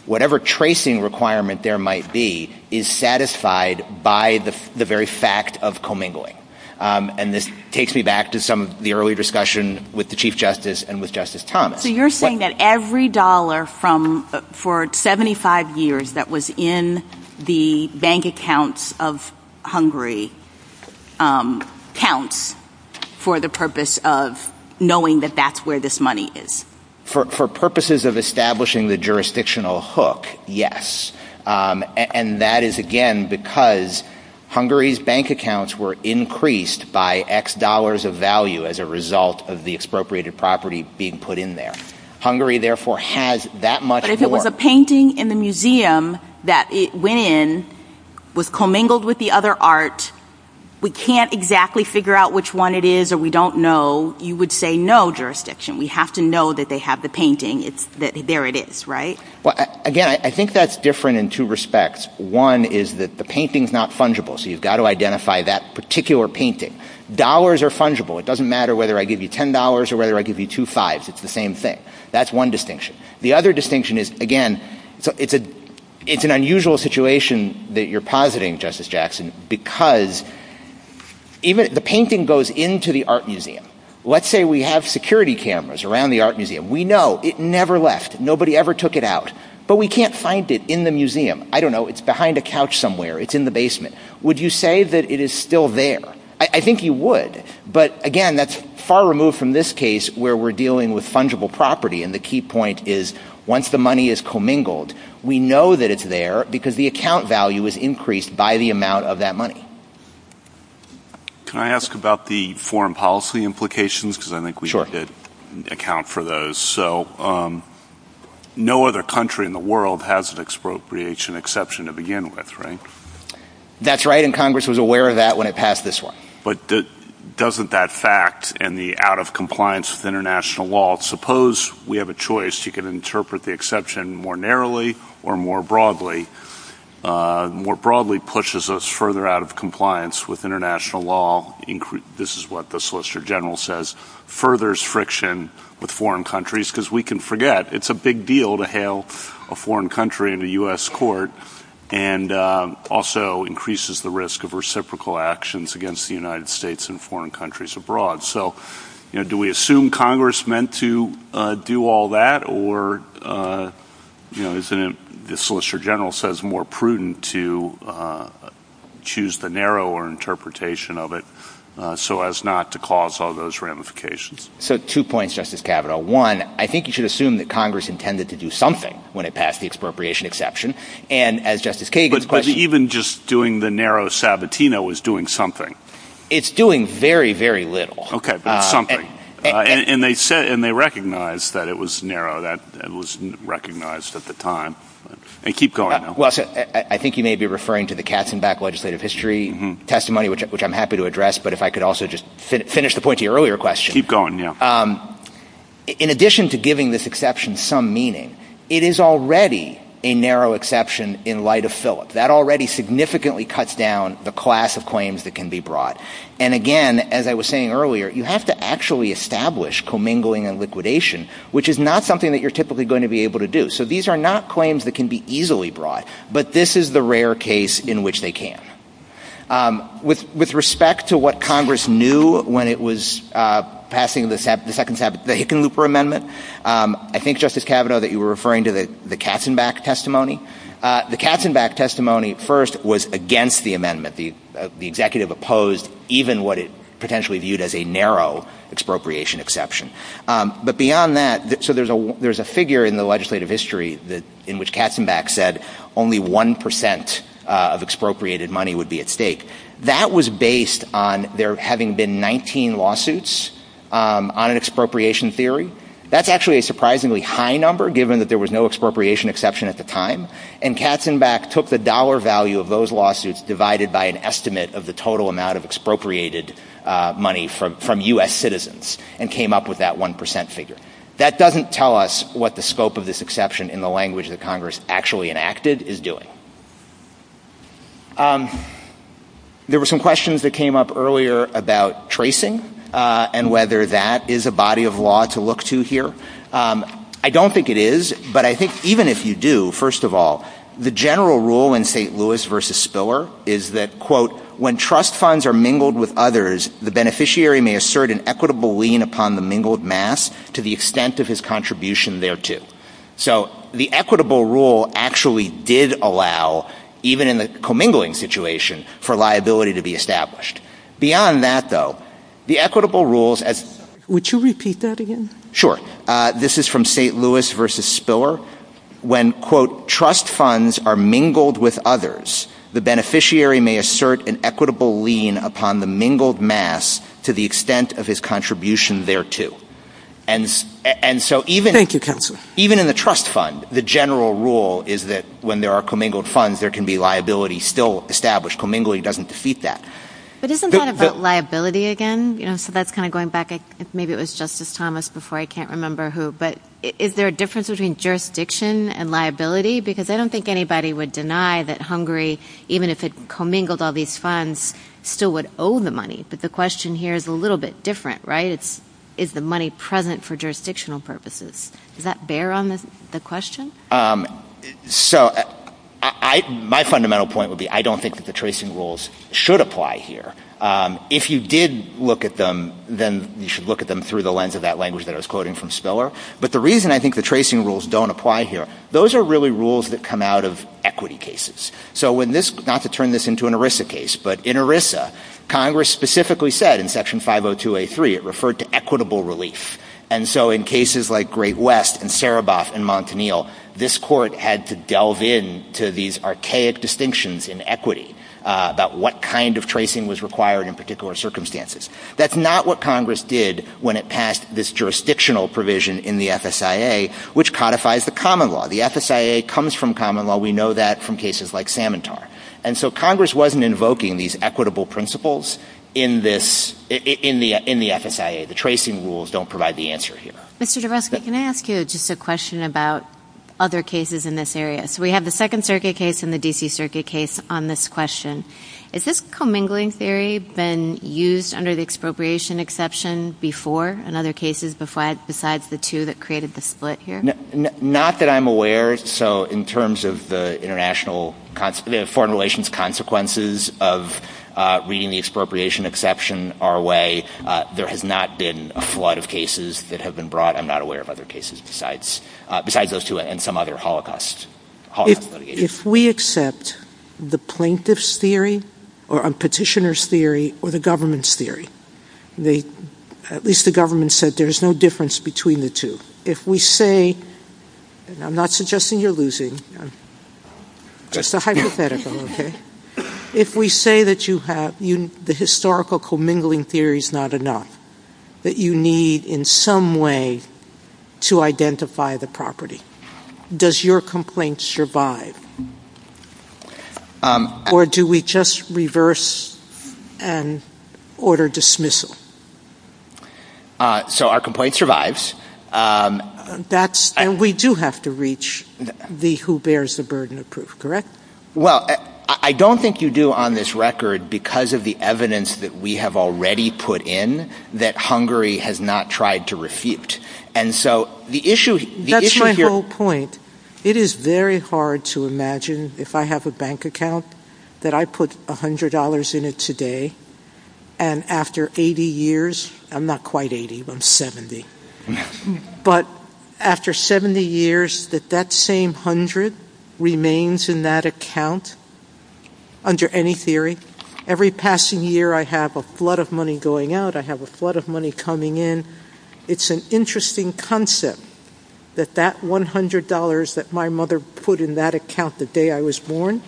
whatever tracing requirement there might be is satisfied by the very fact of commingling. And this takes me back to some of the early discussion with the Chief Justice and with Justice Thomas. So you're saying that every dollar for 75 years that was in the bank accounts of Hungary counts for the purpose of knowing that that's where this money is? For purposes of establishing the jurisdictional hook, yes. And that is again because Hungary's bank accounts were increased by X dollars of value as a result of the expropriated property being put in there. Hungary therefore has that much more... that it went in, was commingled with the other art. We can't exactly figure out which one it is or we don't know. You would say no jurisdiction. We have to know that they have the painting. There it is, right? Again, I think that's different in two respects. One is that the painting's not fungible, so you've got to identify that particular painting. Dollars are fungible. It doesn't matter whether I give you $10 or whether I give you two fives. It's the same thing. That's one distinction. The other distinction is, again, it's an unusual situation that you're positing, Justice Jackson, because the painting goes into the art museum. Let's say we have security cameras around the art museum. We know it never left. Nobody ever took it out. But we can't find it in the museum. I don't know. It's behind a couch somewhere. It's in the basement. Would you say that it is still there? I think you would, but again, that's far removed from this case where we're dealing with fungible property, and the key point is once the money is commingled, we know that it's there because the account value is increased by the amount of that money. Can I ask about the foreign policy implications? Because I think we need to account for those. No other country in the world has an expropriation exception to begin with, right? That's right, and Congress was aware of that when it passed this one. But doesn't that fact and the out-of-compliance with international law, suppose we have a choice, you can interpret the exception more narrowly or more broadly, more broadly pushes us further out of compliance with international law, this is what the Solicitor General says, furthers friction with foreign countries, because we can forget it's a big deal to hail a foreign country in a U.S. court, and also increases the risk of reciprocal actions against the United States and foreign countries abroad. So do we assume Congress meant to do all that, or is it, as the Solicitor General says, more prudent to choose the narrower interpretation of it so as not to cause all those ramifications? So two points, Justice Kavanaugh. One, I think you should assume that Congress intended to do something when it passed the expropriation exception, and as Justice Kagan's question... But even just doing the narrow Sabatino is doing something. It's doing very, very little. Okay, but it's something. And they said, and they recognized that it was narrow, that it was recognized at the time. And keep going. Well, I think you may be referring to the Katzenbach legislative history testimony, which I'm happy to address, but if I could also just finish the point to your earlier question. Keep going, yeah. In addition to giving this exception some meaning, it is already a narrow exception in light of Phillips. That already significantly cuts down the class of claims that can be brought. And again, as I was saying earlier, you have to actually establish commingling and liquidation, which is not something that you're typically going to be able to do. So these are not claims that can be easily brought, but this is the rare case in which they can. With respect to what Congress knew when it was passing the Hickenlooper Amendment, I think, Justice Kavanaugh, that you were referring to the Katzenbach testimony. The Katzenbach testimony first was against the amendment. The executive opposed even what it potentially viewed as a narrow expropriation exception. But beyond that, so there's a figure in the legislative history in which Katzenbach said only 1% of expropriated money would be at stake. That was based on there having been 19 lawsuits on an expropriation theory. That's actually a surprisingly high number, given that there was no expropriation exception at the time. And Katzenbach took the dollar value of those lawsuits, divided by an estimate of the total amount of expropriated money from U.S. citizens, and came up with that 1% figure. That doesn't tell us what the scope of this exception in the language that Congress actually enacted is doing. There were some questions that came up earlier about tracing, and whether that is a body of law to look to here. I don't think it is, but I think even if you do, first of all, the general rule in St. Louis v. Spiller is that, quote, So the equitable rule actually did allow, even in the commingling situation, for liability to be established. Beyond that, though, the equitable rules as... Would you repeat that again? Sure. This is from St. Louis v. Spiller. When, quote, upon the mingled mass to the extent of his contribution thereto. And so even... Thank you, counsel. Even in the trust fund, the general rule is that when there are commingled funds, there can be liability still established. Commingling doesn't defeat that. But isn't that about liability again? So that's kind of going back, maybe it was Justice Thomas before, I can't remember who, but is there a difference between jurisdiction and liability? Because I don't think anybody would deny that Hungary, even if it commingled all these funds, still would owe the money. But the question here is a little bit different, right? Is the money present for jurisdictional purposes? Does that bear on the question? So my fundamental point would be, I don't think that the tracing rules should apply here. If you did look at them, then you should look at them through the lens of that language that I was quoting from Spiller. But the reason I think the tracing rules don't apply here, those are really rules that come out of equity cases. So when this, not to turn this into an ERISA case, but in ERISA, Congress specifically said in Section 502A3, it referred to equitable relief. And so in cases like Great West and Saraboff and Montanil, this court had to delve in to these archaic distinctions in equity about what kind of tracing was required in particular circumstances. That's not what Congress did when it passed this jurisdictional provision in the FSIA, which codifies the common law. The FSIA comes from common law. We know that from cases like Samantar. And so Congress wasn't invoking these equitable principles in the FSIA. The tracing rules don't provide the answer here. Mr. Durresca, can I ask you just a question about other cases in this area? So we have the Second Circuit case and the D.C. Circuit case on this question. Has this commingling theory been used under the expropriation exception before and other cases besides the two that created the split here? Not that I'm aware. So in terms of the foreign relations consequences of reading the expropriation exception our way, there has not been a flood of cases that have been brought. I'm not aware of other cases besides those two and some other Holocaust litigations. If we accept the plaintiff's theory or a petitioner's theory or the government's theory, at least the government said there's no difference between the two. If we say, and I'm not suggesting you're losing, just a hypothetical, okay? If we say that the historical commingling theory is not enough, that you need in some way to identify the property, does your complaint survive? Or do we just reverse and order dismissal? So our complaint survives. And we do have to reach the who bears the burden of proof, correct? Well, I don't think you do on this record because of the evidence that we have already put in that Hungary has not tried to refute. That's my whole point. It is very hard to imagine if I have a bank account that I put $100 in it today and after 80 years, I'm not quite 80, I'm 70, but after 70 years that that same 100 remains in that account under any theory. Every passing year I have a flood of money going out, I have a flood of money coming in. It's an interesting concept that that $100 that my mother put in that account the day I was born,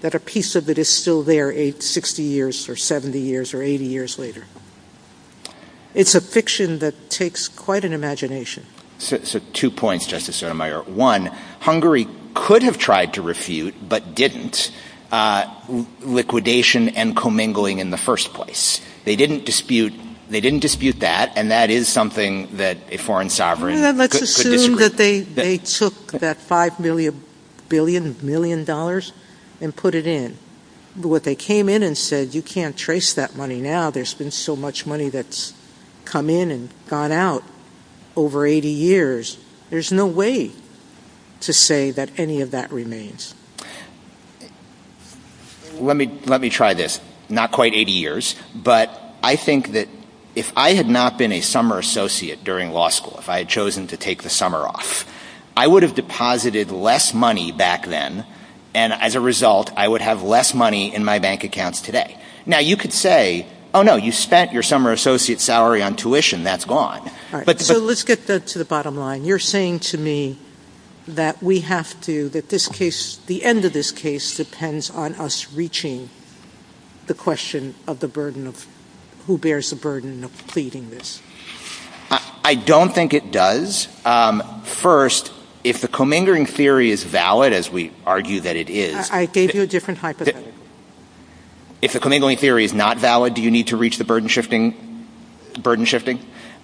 that a piece of it is still there 60 years or 70 years or 80 years later. It's a fiction that takes quite an imagination. So two points, Justice Sotomayor. One, Hungary could have tried to refute but didn't liquidation and commingling in the first place. They didn't dispute that and that is something that a foreign sovereign could disagree. Let's assume that they took that $5 billion and put it in. What they came in and said, you can't trace that money now, there's been so much money that's come in and gone out over 80 years. There's no way to say that any of that remains. Let me try this. Not quite 80 years, but I think that if I had not been a summer associate during law school, if I had chosen to take the summer off, I would have deposited less money back then and as a result I would have less money in my bank accounts today. Now you could say, oh no, you spent your summer associate salary on tuition, that's gone. So let's get to the bottom line. You're saying to me that we have to, that this case, the end of this case, depends on us reaching the question of the burden of who bears the burden of pleading this. I don't think it does. First, if the commingling theory is valid, as we argue that it is. I gave you a different hypothetical. If the commingling theory is not valid, do you need to reach the burden shifting?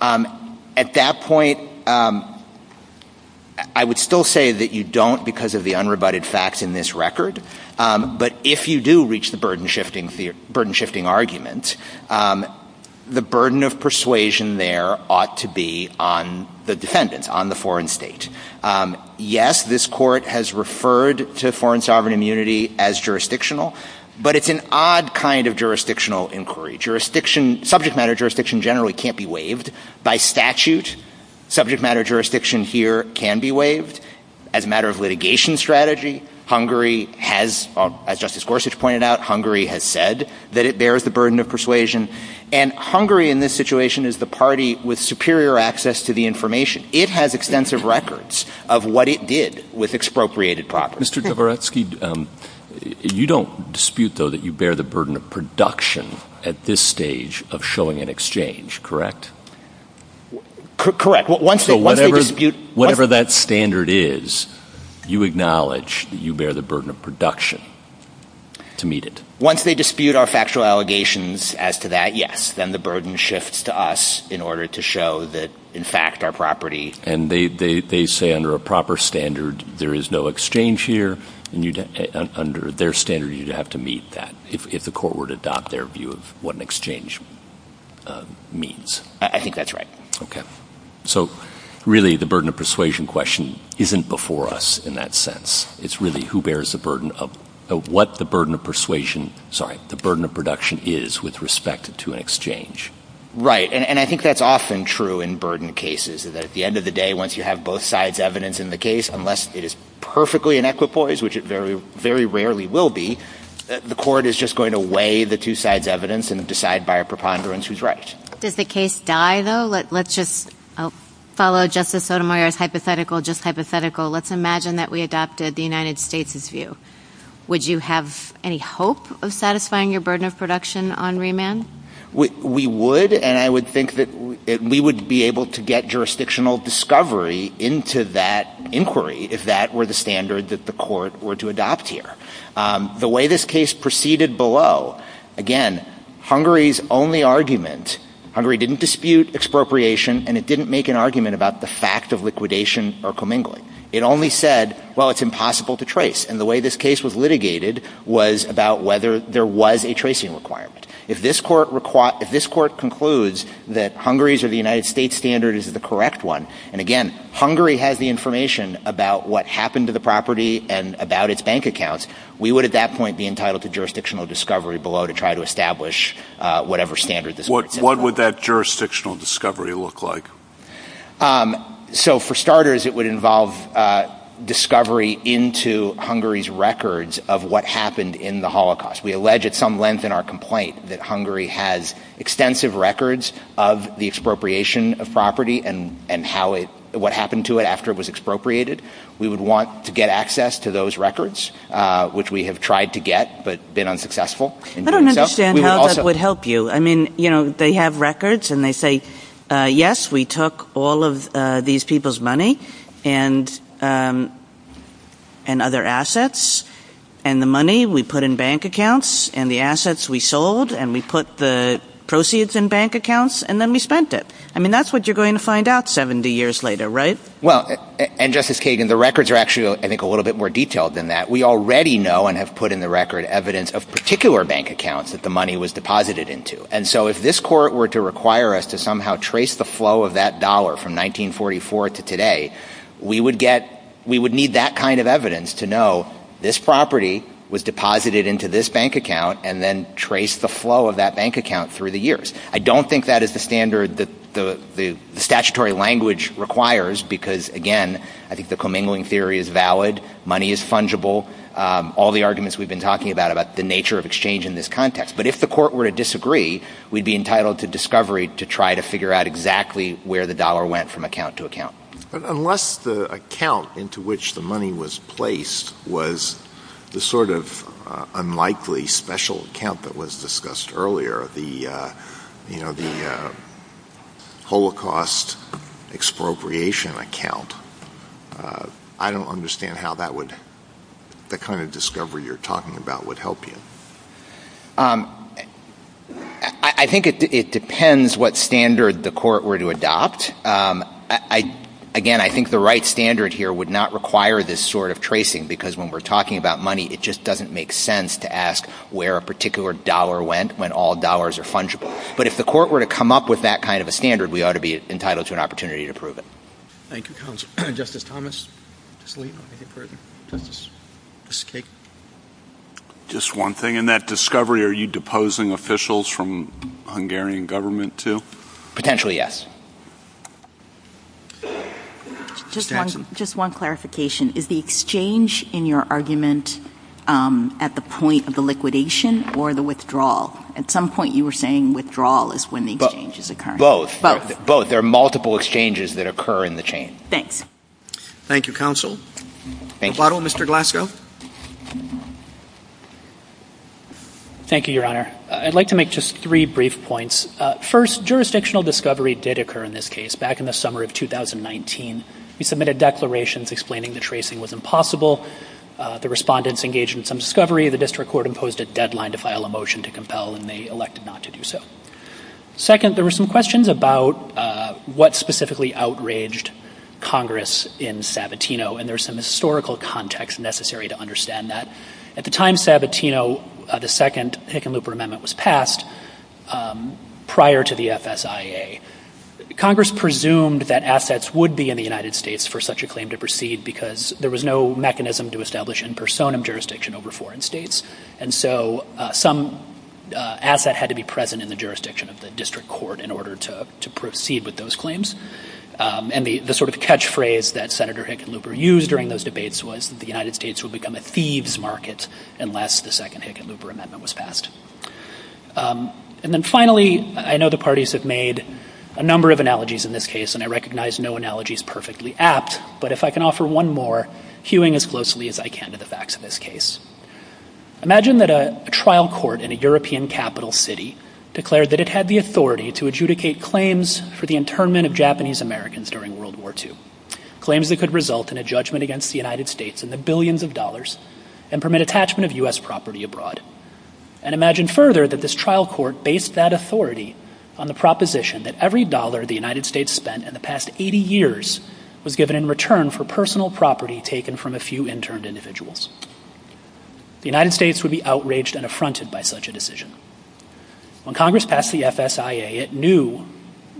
At that point, I would still say that you don't because of the unrebutted facts in this record. But if you do reach the burden shifting argument, the burden of persuasion there ought to be on the defendant, on the foreign state. Yes, this court has referred to foreign sovereign immunity as jurisdictional, but it's an odd kind of jurisdictional inquiry. Subject matter jurisdiction generally can't be waived by statute. Subject matter jurisdiction here can be waived. As a matter of litigation strategy, Hungary has, as Justice Gorsuch pointed out, Hungary has said that it bears the burden of persuasion. And Hungary in this situation is the party with superior access to the information. It has extensive records of what it did with expropriated property. Mr. Dabrowski, you don't dispute, though, that you bear the burden of production at this stage of showing an exchange, correct? Correct. So whatever that standard is, you acknowledge that you bear the burden of production to meet it? Once they dispute our factual allegations as to that, yes. Then the burden shifts to us in order to show that, in fact, our property— And they say under a proper standard there is no exchange here, and under their standard you'd have to meet that if the court were to adopt their view of what an exchange means. I think that's right. Okay. So really the burden of persuasion question isn't before us in that sense. It's really who bears the burden of—what the burden of persuasion— sorry, the burden of production is with respect to an exchange. Right, and I think that's often true in burden cases. At the end of the day, once you have both sides' evidence in the case, unless it is perfectly in equipoise, which it very rarely will be, the court is just going to weigh the two sides' evidence and decide by a preponderance who's right. Does the case die, though? Let's just follow Justice Sotomayor's hypothetical just hypothetical. Let's imagine that we adopted the United States' view. Would you have any hope of satisfying your burden of production on remand? We would, and I would think that we would be able to get jurisdictional discovery into that inquiry if that were the standard that the court were to adopt here. The way this case proceeded below, again, Hungary's only argument— Hungary didn't dispute expropriation, and it didn't make an argument about the fact of liquidation or commingling. It only said, well, it's impossible to trace, and the way this case was litigated was about whether there was a tracing requirement. If this court concludes that Hungary's or the United States' standard is the correct one, and again, Hungary has the information about what happened to the property and about its bank accounts, we would at that point be entitled to jurisdictional discovery below to try to establish whatever standard this court set. What would that jurisdictional discovery look like? For starters, it would involve discovery into Hungary's records of what happened in the Holocaust. We allege at some length in our complaint that Hungary has extensive records of the expropriation of property and what happened to it after it was expropriated. We would want to get access to those records, which we have tried to get but been unsuccessful. I don't understand how that would help you. I mean, they have records, and they say, yes, we took all of these people's money and other assets, and the money we put in bank accounts, and the assets we sold, and we put the proceeds in bank accounts, and then we spent it. I mean, that's what you're going to find out 70 years later, right? Well, and Justice Kagan, the records are actually, I think, a little bit more detailed than that. We already know and have put in the record evidence of particular bank accounts that the money was deposited into. And so if this court were to require us to somehow trace the flow of that dollar from 1944 to today, we would need that kind of evidence to know this property was deposited into this bank account and then trace the flow of that bank account through the years. I don't think that is the standard that the statutory language requires because, again, I think the commingling theory is valid. Money is fungible. All the arguments we've been talking about about the nature of exchange in this context. But if the court were to disagree, we'd be entitled to discovery to try to figure out exactly where the dollar went from account to account. Unless the account into which the money was placed was the sort of unlikely special account that was discussed earlier, the Holocaust expropriation account, I don't understand how that kind of discovery you're talking about would help you. I think it depends what standard the court were to adopt. Again, I think the right standard here would not require this sort of tracing because when we're talking about money, it just doesn't make sense to ask where a particular dollar went when all dollars are fungible. But if the court were to come up with that kind of a standard, we ought to be entitled to an opportunity to prove it. Just one thing, in that discovery, are you deposing officials from Hungarian government too? Potentially, yes. Just one clarification. Is the exchange in your argument at the point of the liquidation or the withdrawal? At some point you were saying withdrawal is when the exchange is occurring. Both. Both. There are multiple exchanges that occur in the chain. Thanks. Thank you, counsel. Thank you, Your Honor. I'd like to make just three brief points. First, jurisdictional discovery did occur in this case back in the summer of 2019. We submitted declarations explaining the tracing was impossible. The respondents engaged in some discovery. The district court imposed a deadline to file a motion to compel and they elected not to do so. Second, there were some questions about what specifically outraged Congress in Sabatino, and there's some historical context necessary to understand that. At the time Sabatino, the second Hickenlooper Amendment was passed, prior to the FSIA, Congress presumed that assets would be in the United States for such a claim to proceed because there was no mechanism to establish in personam jurisdiction over foreign states. And so some asset had to be present in the jurisdiction of the district court in order to proceed with those claims. And the sort of catchphrase that Senator Hickenlooper used during those debates was the United States would become a thieves market unless the second Hickenlooper Amendment was passed. And then finally, I know the parties have made a number of analogies in this case and I recognize no analogy is perfectly apt, but if I can offer one more, hewing as closely as I can to the facts of this case. Imagine that a trial court in a European capital city declared that it had the authority to adjudicate claims for the internment of Japanese Americans during World War II. Claims that could result in a judgment against the United States in the billions of dollars and permit attachment of U.S. property abroad. And imagine further that this trial court based that authority on the proposition that every dollar the United States spent in the past 80 years was given in return for personal property taken from a few interned individuals. The United States would be outraged and affronted by such a decision. When Congress passed the FSIA, it knew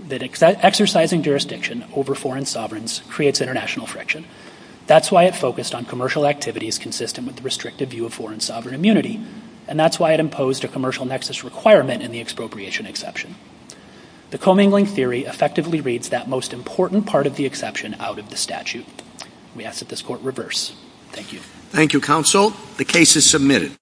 that exercising jurisdiction over foreign sovereigns creates international friction. That's why it focused on commercial activities consistent with the restricted view of foreign sovereign immunity. And that's why it imposed a commercial nexus requirement in the expropriation exception. The commingling theory effectively reads that most important part of the exception out of the statute. We ask that this court reverse. Thank you. Thank you, counsel. The case is submitted.